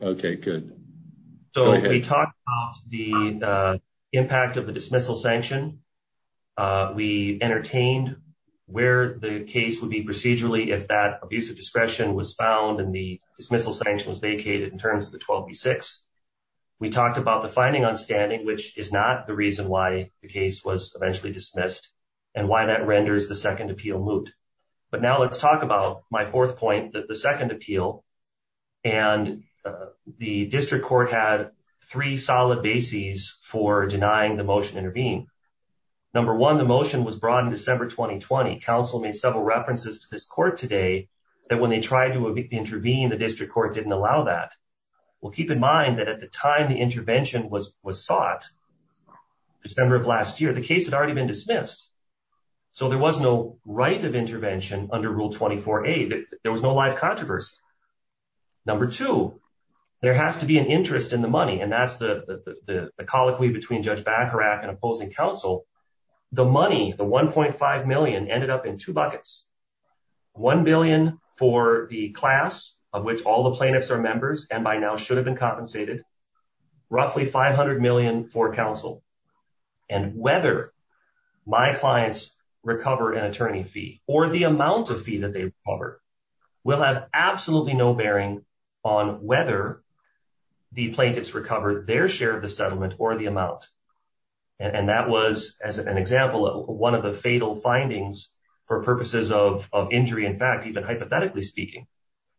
Okay, good. So we talked about the impact of the dismissal sanction. We entertained where the case would be procedurally if that abuse of discretion was found and the dismissal sanction was vacated in terms of the 12B6. We talked about the finding on standing, which is not the reason why the case was eventually dismissed and why that renders the second appeal moot. But now let's talk about my fourth point, the second appeal. And the district court had three solid bases for denying the motion to intervene. Number one, the motion was brought in December 2020. Counsel made several references to this court today that when they tried to intervene, the district court didn't allow that. Well, keep in mind that at the time the intervention was sought, December of last year, the case had already been dismissed. So there was no right of intervention under Rule 24A. There was no live controversy. Number two, there has to be an interest in the money, and that's the colloquy between Judge Bacharach and opposing counsel. The money, the $1.5 million, ended up in two buckets. $1 billion for the class of which all the plaintiffs are members and by now should have been compensated. Roughly $500 million for counsel. And whether my clients recover an attorney fee or the amount of fee that they recover will have absolutely no bearing on whether the plaintiffs recovered their share of the settlement or the amount. And that was, as an example, one of the fatal findings for purposes of injury, in fact, even hypothetically speaking.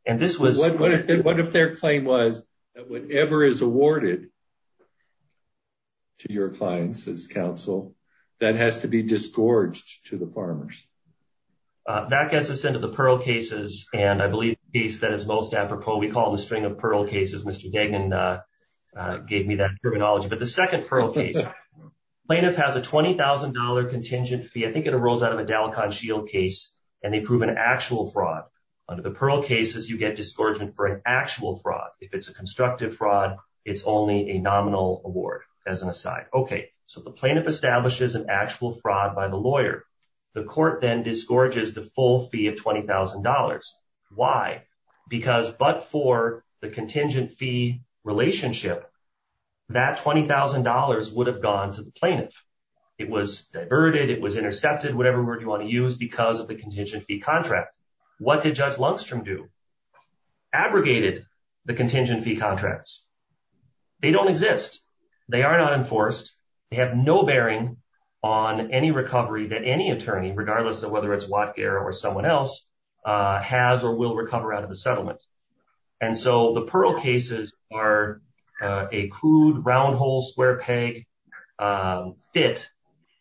And this was... What if their claim was that whatever is awarded to your clients as counsel, that has to be disgorged to the farmers? That gets us into the Pearl cases, and I believe he says most apropos we call the string of Pearl cases. Mr. Deggan gave me that terminology. But the second Pearl case, plaintiff has a $20,000 contingent fee. I think it rolls out of a Dalicon Shield case, and they prove an actual fraud. Under the Pearl cases, you get disgorgement for an actual fraud. If it's a constructive fraud, it's only a nominal award as an aside. Okay, so the plaintiff establishes an actual fraud by the lawyer. The court then disgorges the full fee of $20,000. Why? Because but for the contingent fee relationship, that $20,000 would have gone to the plaintiff. It was diverted. It was intercepted, whatever word you want to use, because of the contingent fee contract. What did Judge Lundstrom do? Abrogated the contingent fee contracts. They don't exist. They are not enforced. They have no bearing on any recovery that any attorney, regardless of whether it's Watger or someone else, has or will recover out of the settlement. And so the Pearl cases are a crude, round hole, square peg fit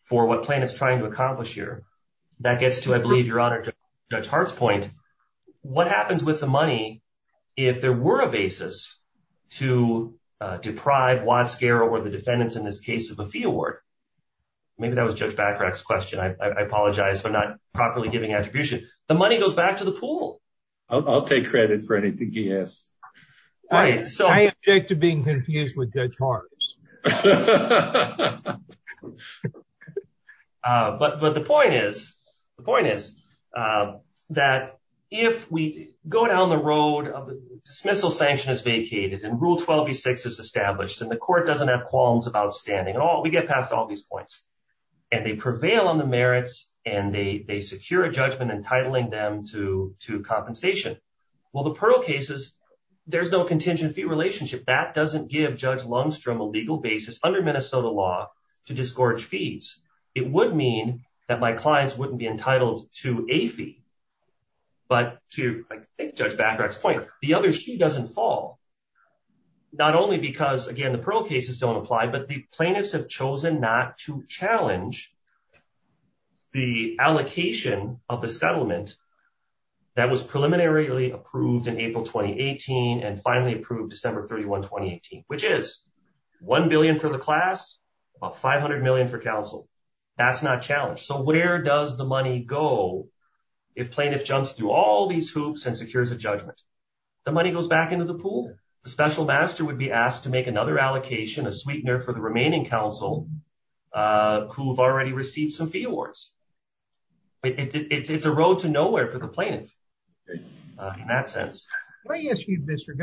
for what plaintiff is trying to accomplish here. That gets to, I believe, Your Honor, to Judge Hart's point. What happens with the money if there were a basis to deprive Watzger or the defendants in this case of a fee award? Maybe that was Judge Batrack's question. I apologize for not properly giving attribution. The money goes back to the pool. I'll take credit for anything he has. I object to being confused with Judge Hart. But the point is, the point is that if we go down the road of dismissal sanction is vacated and Rule 12b-6 is established and the court doesn't have qualms about standing at all, we get past all these points, and they prevail on the merits, and they secure a judgment entitling them to compensation, well, the Pearl cases, there's no contingent fee relationship. That doesn't give Judge Lundstrom a legal basis under Minnesota law to disgorge fees. It would mean that my clients wouldn't be entitled to a fee. But to Judge Batrack's point, the other sheet doesn't fall. Not only because, again, the Pearl cases don't apply, but the plaintiffs have chosen not to challenge the allocation of the settlement that was preliminarily approved in April 2018 and finally approved December 31, 2018, which is $1 billion for the class, about $500 million for counsel. That's not challenged. So where does the money go if plaintiff jumps through all these hoops and secures a judgment? The money goes back into the pool. The special master would be asked to make another allocation, a sweetener, for the remaining counsel who have already received some fee awards. It's a road to nowhere for the plaintiff in that sense. I ask you, Mr.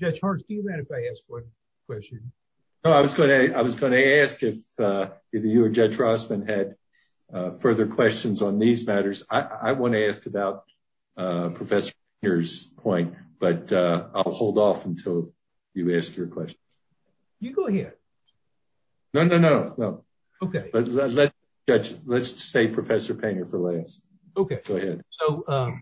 Judge, do you mind if I ask one question? I was going to ask if you or Judge Rossman had further questions on these matters. I want to ask about Professor's point, but I'll hold off until you ask your question. You go ahead. No, no, no, no. OK. Let's say Professor Payne is the last. OK. So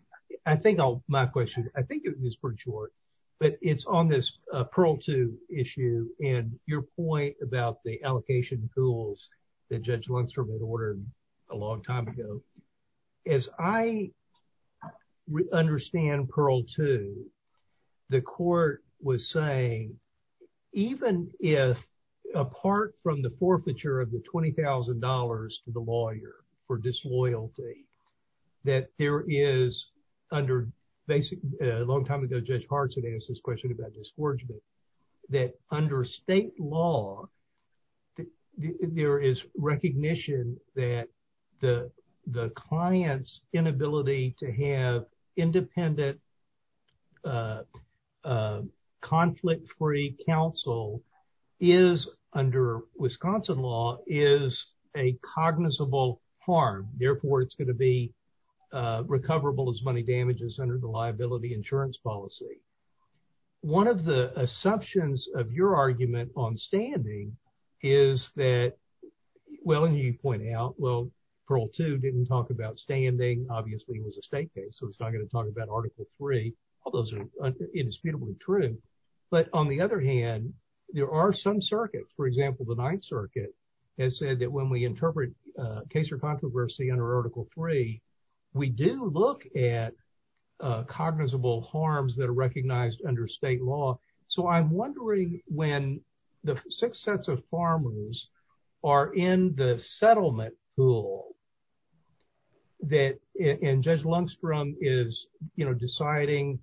I think my question. I think it is pretty short, but it's on this Pearl 2 issue and your point about the allocation tools that Judge Lundstrom had ordered a long time ago. As I understand Pearl 2, the court was saying, even if apart from the forfeiture of the $20,000 to the lawyer for disloyalty, that there is under basic... ...the client's inability to have independent, conflict-free counsel is, under Wisconsin law, is a cognizable harm. Therefore, it's going to be recoverable as money damages under the liability insurance policy. One of the assumptions of your argument on standing is that, well, you point out, well, Pearl 2 didn't talk about standing. Obviously, it was a state case, so it's not going to talk about Article 3. All those are indisputably true. But on the other hand, there are some circuits. For example, the Ninth Circuit has said that when we interpret case or controversy under Article 3, we do look at cognizable harms that are recognized under state law. So I'm wondering, when the six sets of farmers are in the settlement pool, and Judge Lundstrom is deciding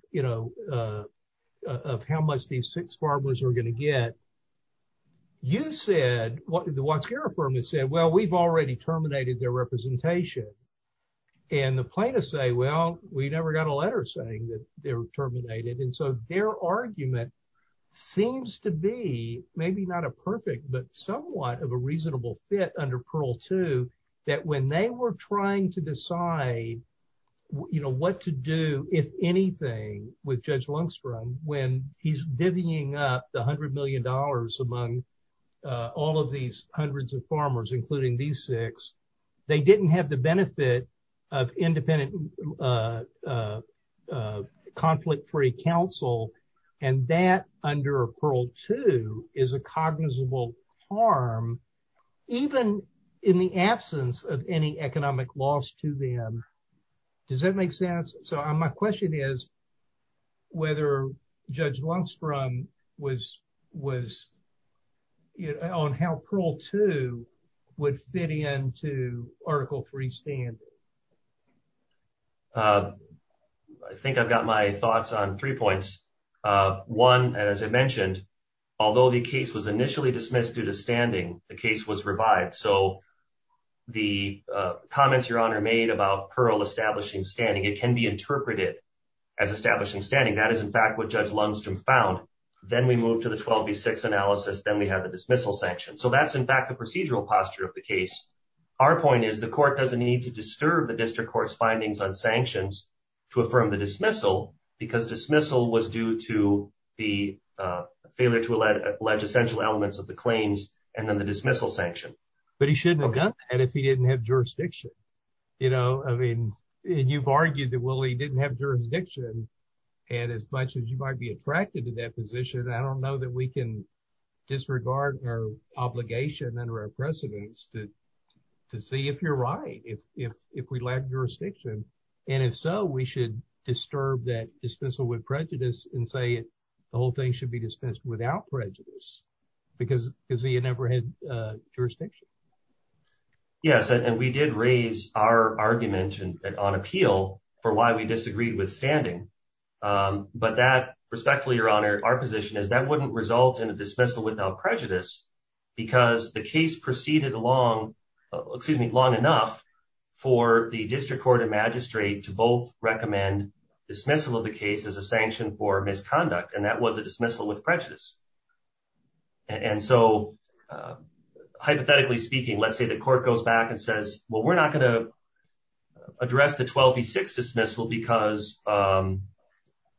of how much these six farmers are going to get, you said... ...and the plaintiffs say, well, we never got a letter saying that they were terminated. And so their argument seems to be maybe not a perfect, but somewhat of a reasonable fit under Pearl 2... ...when they were trying to decide what to do, if anything, with Judge Lundstrom, when he's divvying up the $100 million among all of these hundreds of farmers, including these six, they didn't have the benefit of independent, conflict-free counsel. And that, under Pearl 2, is a cognizable harm, even in the absence of any economic loss to them. Does that make sense? So my question is whether Judge Lundstrom was...on how Pearl 2 would fit into Article 3 standards. I think I've got my thoughts on three points. One, as I mentioned, although the case was initially dismissed due to standing, the case was revived. So the comments Your Honor made about Pearl establishing standing, it can be interpreted as establishing standing. That is, in fact, what Judge Lundstrom found. Then we moved to the 12B6 analysis. Then we had the dismissal sanction. So that's, in fact, the procedural posture of the case. Our point is the court doesn't need to disturb the district court's findings on sanctions to affirm the dismissal because dismissal was due to the failure to allege essential elements of the claims and then the dismissal sanction. But he shouldn't have done that if he didn't have jurisdiction. I mean, you've argued that Willie didn't have jurisdiction. And as much as you might be attracted to that position, I don't know that we can disregard her obligation under our precedence to see if you're right, if we lack jurisdiction. And if so, we should disturb that dismissal with prejudice and say the whole thing should be dismissed without prejudice because he never had jurisdiction. Yes, and we did raise our argument on appeal for why we disagreed with standing. But that, respectfully, Your Honor, our position is that wouldn't result in a dismissal without prejudice because the case proceeded long enough for the district court and magistrate to both recommend dismissal of the case as a sanction for misconduct. And that was a dismissal with prejudice. And so, hypothetically speaking, let's say the court goes back and says, well, we're not going to address the 12 v. 6 dismissal because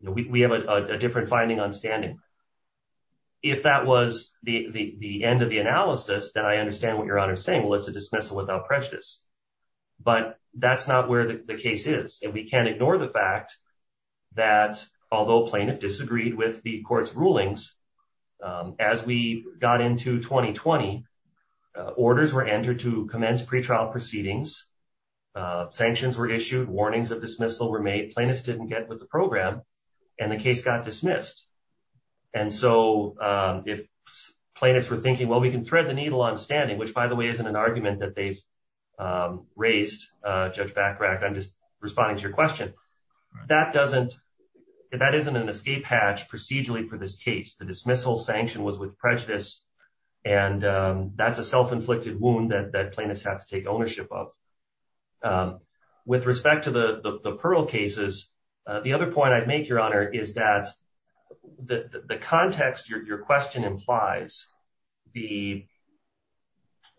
we have a different finding on standing. If that was the end of the analysis, then I understand what Your Honor is saying was the dismissal without prejudice. But that's not where the case is. And we can't ignore the fact that although plaintiff disagreed with the court's rulings, as we got into 2020, orders were entered to commence pretrial proceedings, sanctions were issued, warnings of dismissal were made, plaintiffs didn't get with the program, and the case got dismissed. And so, if plaintiffs were thinking, well, we can thread the needle on standing, which, by the way, isn't an argument that they've raised, Judge Bachrach, I'm just responding to your question, that doesn't, that isn't an escape hatch procedurally for this case. The dismissal sanction was with prejudice, and that's a self-inflicted wound that plaintiffs have to take ownership of. With respect to the Pearl cases, the other point I'd make, Your Honor, is that the context your question implies, the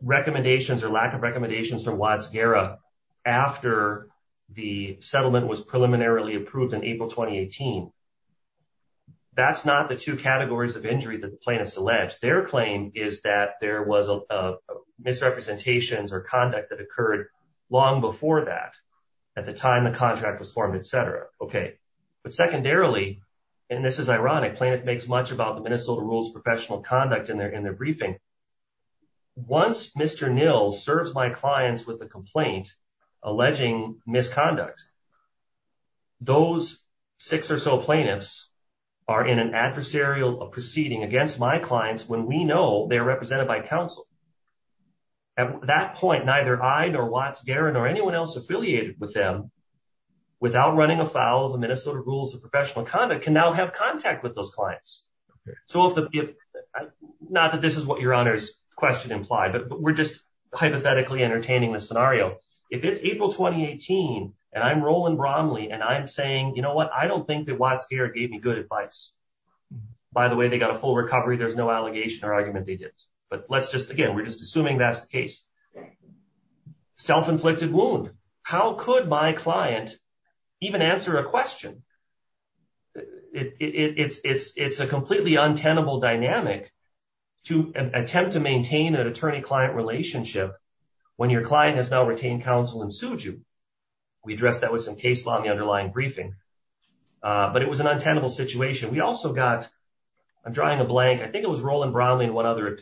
recommendations or lack of recommendations from Watts-Guerra after the settlement was preliminarily approved in April 2018, that's not the two categories of injury that the plaintiffs alleged. Their claim is that there was misrepresentations or conduct that occurred long before that, at the time the contract was formed, et cetera. But secondarily, and this is ironic, plaintiff makes much about the Minnesota Rules of Professional Conduct in their briefing. Once Mr. Nill serves my clients with a complaint alleging misconduct, those six or so plaintiffs are in an adversarial proceeding against my clients when we know they're represented by counsel. At that point, neither I nor Watts-Guerra nor anyone else affiliated with them, without running afoul of the Minnesota Rules of Professional Conduct, can now have contact with those clients. So, not that this is what Your Honor's question implied, but we're just hypothetically entertaining the scenario. If it's April 2018, and I'm Roland Bromley, and I'm saying, you know what, I don't think that Watts-Guerra gave me good advice. By the way, they got a full recovery, there's no allegation or argument they did. But let's just, again, we're just assuming that's the case. Self-inflicted wound. How could my client even answer a question? It's a completely untenable dynamic to attempt to maintain an attorney-client relationship when your client has now retained counsel and sued you. We addressed that with some case law in the underlying briefing. But it was an untenable situation. We also got, I'm drawing a blank, I think it was Roland Bromley and one other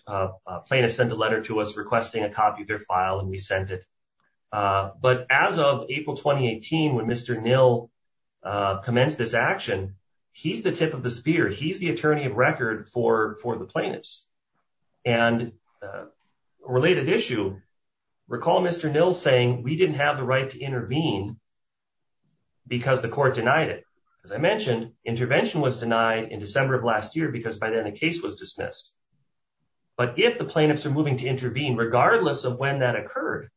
plaintiff sent a letter to us requesting a copy of their file, and we sent it. But as of April 2018, when Mr. Nill commenced this action, he's the tip of the spear. He's the attorney of record for the plaintiffs. And a related issue, recall Mr. Nill saying we didn't have the right to intervene because the court denied it. As I mentioned, intervention was denied in December of last year because by then the case was dismissed. But if the plaintiffs are moving to intervene, regardless of when that occurred,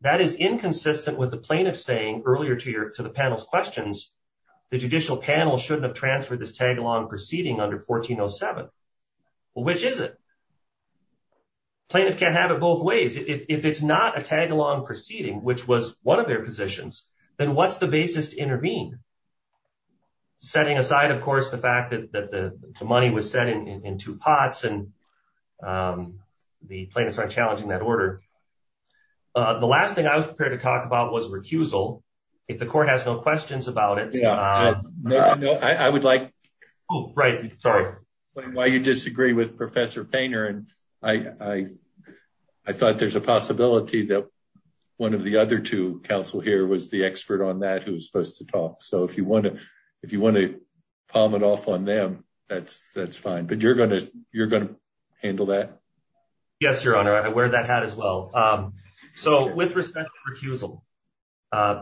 that is inconsistent with the plaintiff saying earlier to the panel's questions, the judicial panel shouldn't have transferred this tag-along proceeding under 1407. Well, which is it? Plaintiffs can't have it both ways. If it's not a tag-along proceeding, which was one of their positions, then what's the basis to intervene? Setting aside, of course, the fact that the money was sent in two pots and the plaintiffs aren't challenging that order. The last thing I was prepared to talk about was recusal. If the court has no questions about it. I would like to know why you disagree with Professor Painter. I thought there's a possibility that one of the other two counsel here was the expert on that who was supposed to talk. So if you want to palm it off on them, that's fine. But you're going to handle that? Yes, Your Honor. I wear that hat as well. So with respect to recusal,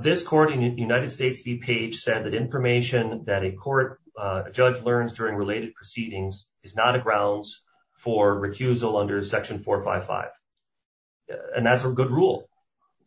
this court in the United States DPA said that information that a court judge learns during related proceedings is not a grounds for recusal under Section 455. And that's a good rule.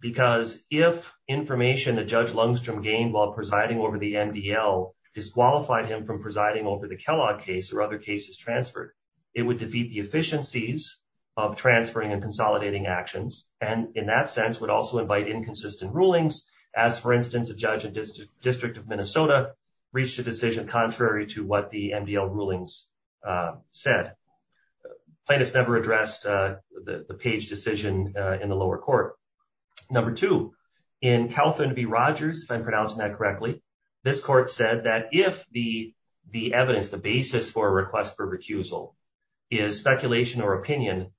Because if information that Judge Lungstrom gained while presiding over the MDL disqualified him from presiding over the Kellogg case or other cases transferred, it would defeat the efficiencies of transferring and consolidating actions. And in that sense, would also invite inconsistent rulings. As, for instance, a judge in the District of Minnesota reached a decision contrary to what the MDL rulings said. Plaintiffs never addressed the Page decision in the lower court. Number two, in Calvin B. Rogers, if I'm pronouncing that correctly, this court said that if the evidence, the basis for a request for recusal is speculation or opinion,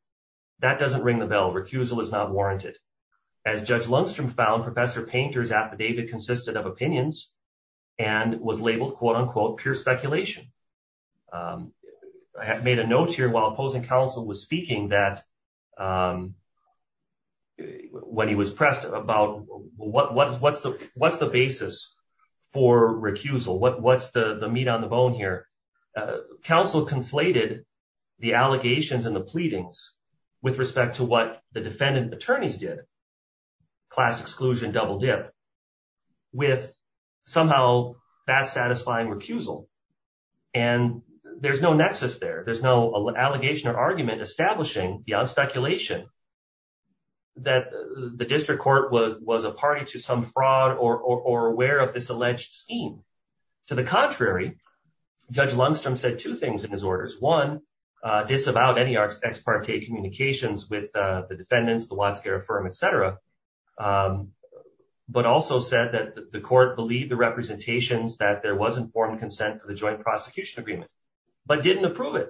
that doesn't ring the bell. Recusal is not warranted. As Judge Lungstrom found, Professor Painter's affidavit consisted of opinions and was labeled, quote-unquote, pure speculation. I have made a note here while opposing counsel was speaking that when he was pressed about what's the basis for recusal, what's the meat on the bone here. Counsel conflated the allegations and the pleadings with respect to what the defendant attorneys did, class exclusion, double dip, with somehow that satisfying recusal. And there's no nexus there. There's no allegation or argument establishing beyond speculation that the district court was a party to some fraud or aware of this alleged scheme. To the contrary, Judge Lungstrom said two things in his orders. One, disavow any ex parte communications with the defendants, the law care firm, et cetera, but also said that the court believed the representations that there was informed consent for the joint prosecution agreement, but didn't approve it.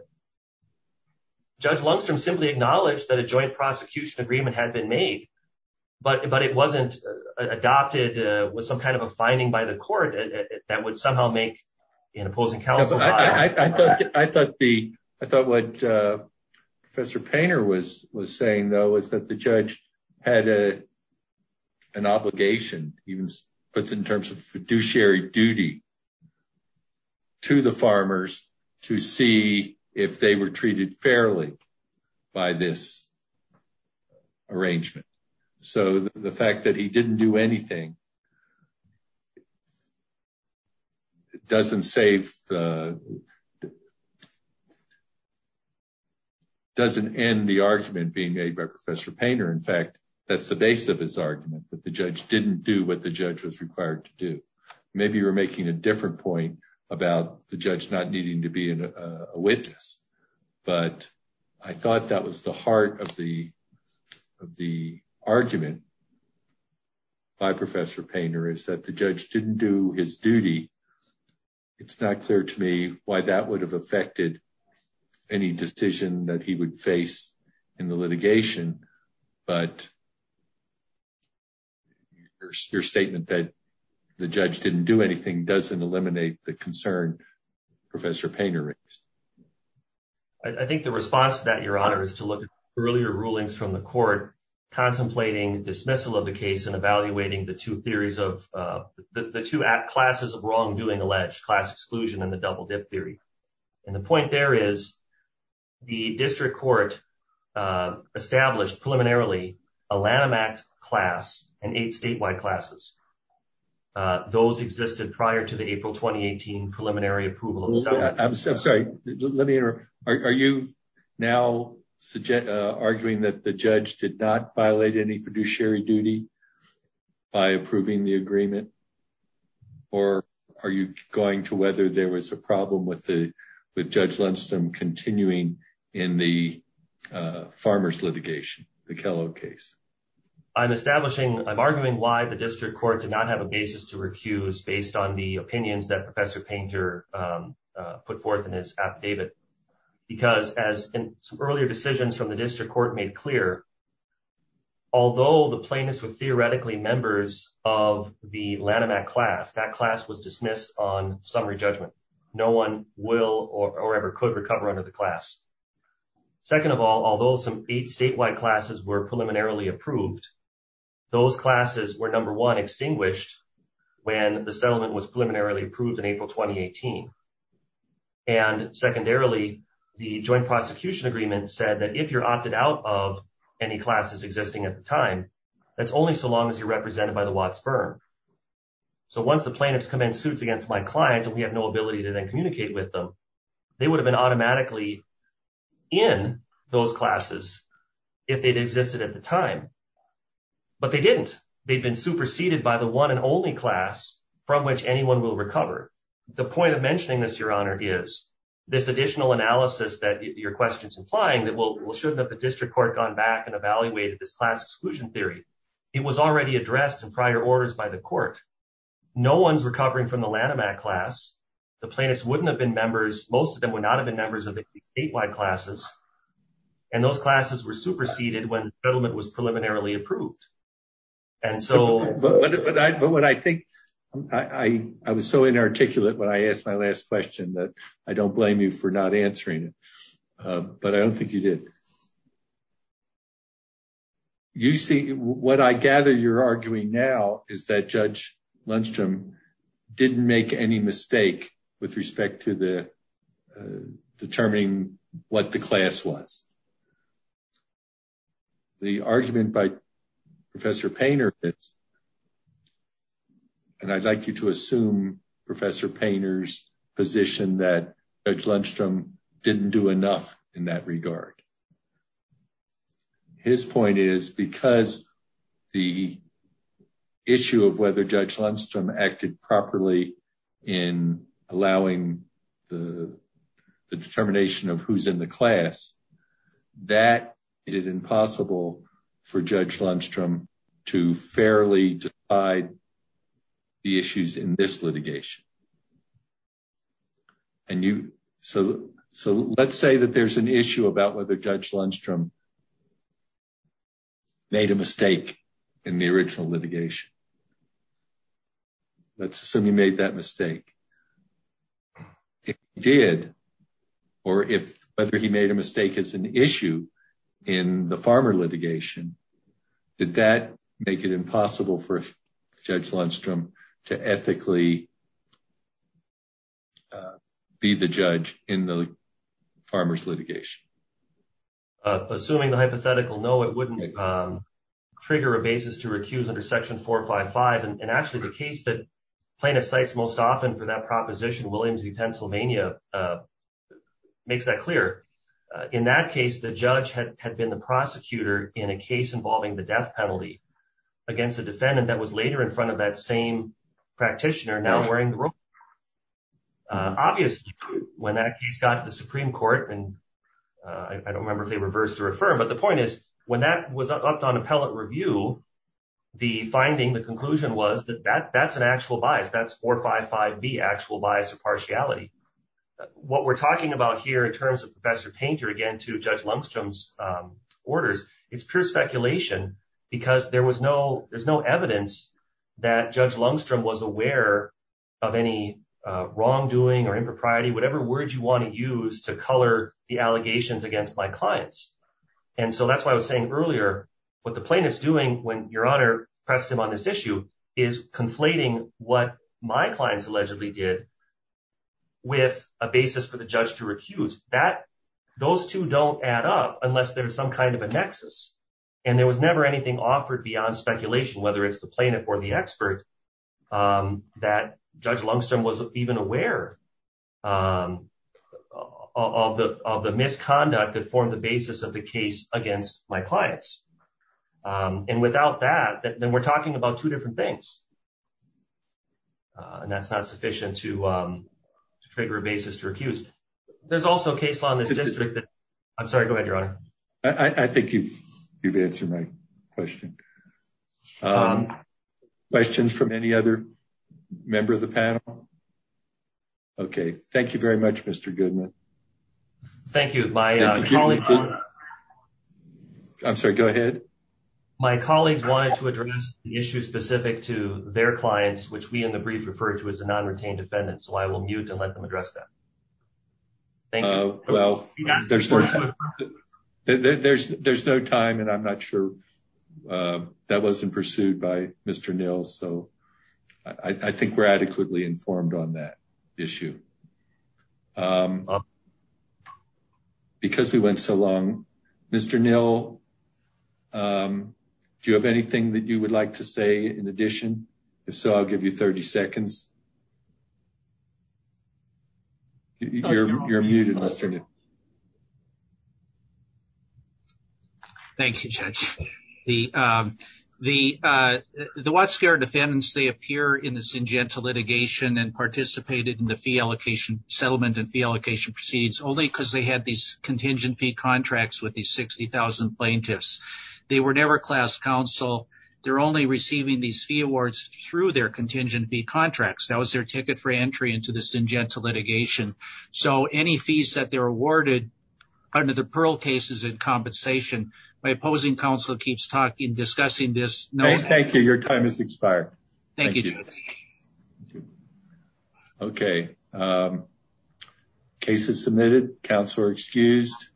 Judge Lungstrom simply acknowledged that a joint prosecution agreement had been made, but it wasn't adopted with some kind of a finding by the court that would somehow make an opposing counsel. I thought what Professor Painter was saying, though, was that the judge had an obligation, even in terms of fiduciary duty, to the farmers to see if they were treated fairly by this arrangement. So the fact that he didn't do anything doesn't end the argument being made by Professor Painter. In fact, that's the base of his argument, that the judge didn't do what the judge was required to do. Maybe you're making a different point about the judge not needing to be a witness, but I thought that was the heart of the argument by Professor Painter, is that the judge didn't do his duty. It's not clear to me why that would have affected any decision that he would face in the litigation, but your statement that the judge didn't do anything doesn't eliminate the concern Professor Painter raised. I think the response to that, Your Honor, is to look at earlier rulings from the court contemplating dismissal of the case and evaluating the two act classes of wrongdoing alleged, class exclusion and the double dip theory. And the point there is the district court established preliminarily a Lanham Act class and eight statewide classes. Those existed prior to the April 2018 preliminary approval. I'm sorry, let me interrupt. Are you now arguing that the judge did not violate any fiduciary duty by approving the agreement? Or are you going to whether there was a problem with Judge Lindstrom continuing in the farmers litigation, the Kellogg case? I'm establishing, I'm arguing why the district court did not have a basis to recuse based on the opinions that Professor Painter put forth in his affidavit. Because as some earlier decisions from the district court made clear, although the plaintiffs were theoretically members of the Lanham Act class, that class was dismissed on summary judgment. No one will or ever could recover under the class. Second of all, although some statewide classes were preliminarily approved, those classes were number one extinguished when the settlement was preliminarily approved in April 2018. And secondarily, the joint prosecution agreement said that if you're opted out of any classes existing at the time, that's only so long as you're represented by the Watts firm. So once the plaintiffs come in suits against my clients and we have no ability to then communicate with them, they would have been automatically in those classes if they'd existed at the time. But they didn't. They'd been superseded by the one and only class from which anyone will recover. The point of mentioning this, Your Honor, is this additional analysis that your question's implying that we'll show that the district court gone back and evaluated this class exclusion theory. It was already addressed in prior orders by the court. No one's recovering from the Lanham Act class. The plaintiffs wouldn't have been members. Most of them would not have been members of the statewide classes. And those classes were superseded when settlement was preliminarily approved. And so... But what I think, I was so inarticulate when I asked my last question that I don't blame you for not answering it. But I don't think you did. You see, what I gather you're arguing now is that Judge Lundstrom didn't make any mistake with respect to the determining what the class was. The argument by Professor Painter is... And I'd like you to assume Professor Painter's position that Judge Lundstrom didn't do enough in that regard. His point is because the issue of whether Judge Lundstrom acted properly in allowing the determination of who's in the class, that is impossible for Judge Lundstrom to fairly divide the issues in this litigation. So let's say that there's an issue about whether Judge Lundstrom made a mistake in the original litigation. Let's assume he made that mistake. If he did, or if whether he made a mistake is an issue in the farmer litigation, did that make it impossible for Judge Lundstrom to ethically be the judge in the farmer's litigation? Assuming the hypothetical, no, it wouldn't trigger a basis to recuse under Section 455. And actually, the case that plaintiff cites most often for that proposition, Williams v. Pennsylvania, makes that clear. In that case, the judge had been the prosecutor in a case involving the death penalty against a defendant that was later in front of that same practitioner now wearing the robe. Obviously, when that case got to the Supreme Court, and I don't remember if they reversed or affirmed, but the point is, when that was upped on appellate review, the finding, the conclusion was that that's an actual bias. That's 455B, actual bias or partiality. What we're talking about here in terms of Professor Painter, again, to Judge Lundstrom's orders, it's pure speculation because there's no evidence that Judge Lundstrom was aware of any wrongdoing or impropriety, whatever word you want to use to color the allegations against my clients. And so that's why I was saying earlier, what the plaintiff's doing when your honor pressed him on this issue is conflating what my clients allegedly did with a basis for the judge to recuse. Those two don't add up unless there's some kind of a nexus. And there was never anything offered beyond speculation, whether it's the plaintiff or the expert, that Judge Lundstrom was even aware of the misconduct that formed the basis of the case against my clients. And without that, then we're talking about two different things. And that's not sufficient to figure a basis to recuse. There's also a case law in the district that... I'm sorry, go ahead, your honor. I think you've answered my question. Questions from any other member of the panel? Okay, thank you very much, Mr. Goodman. Thank you. I'm sorry, go ahead. My colleagues wanted to address the issue specific to their clients, which we in the brief referred to as the non-retained defendants, so I will mute and let them address that. Thank you. Well, there's no time, and I'm not sure that wasn't pursued by Mr. Neal, so I think we're adequately informed on that issue. Because we went so long, Mr. Neal, do you have anything that you would like to say in addition? If so, I'll give you 30 seconds. You're muted, Mr. Neal. Thank you, Judge. The Watts Fair defendants, they appear in the Syngenta litigation and participated in the fee allocation settlement and fee allocation proceeds only because they had these contingent fee contracts with these 60,000 plaintiffs. They were never class counsel. They're only receiving these fee awards through their contingent fee contracts. That was their ticket for entry into the Syngenta litigation. So any fees that they're awarded under the Pearl cases in compensation, my opposing counsel keeps discussing this. Thank you, your time has expired. Thank you, Judge. Okay. Case is submitted. Counsel are excused.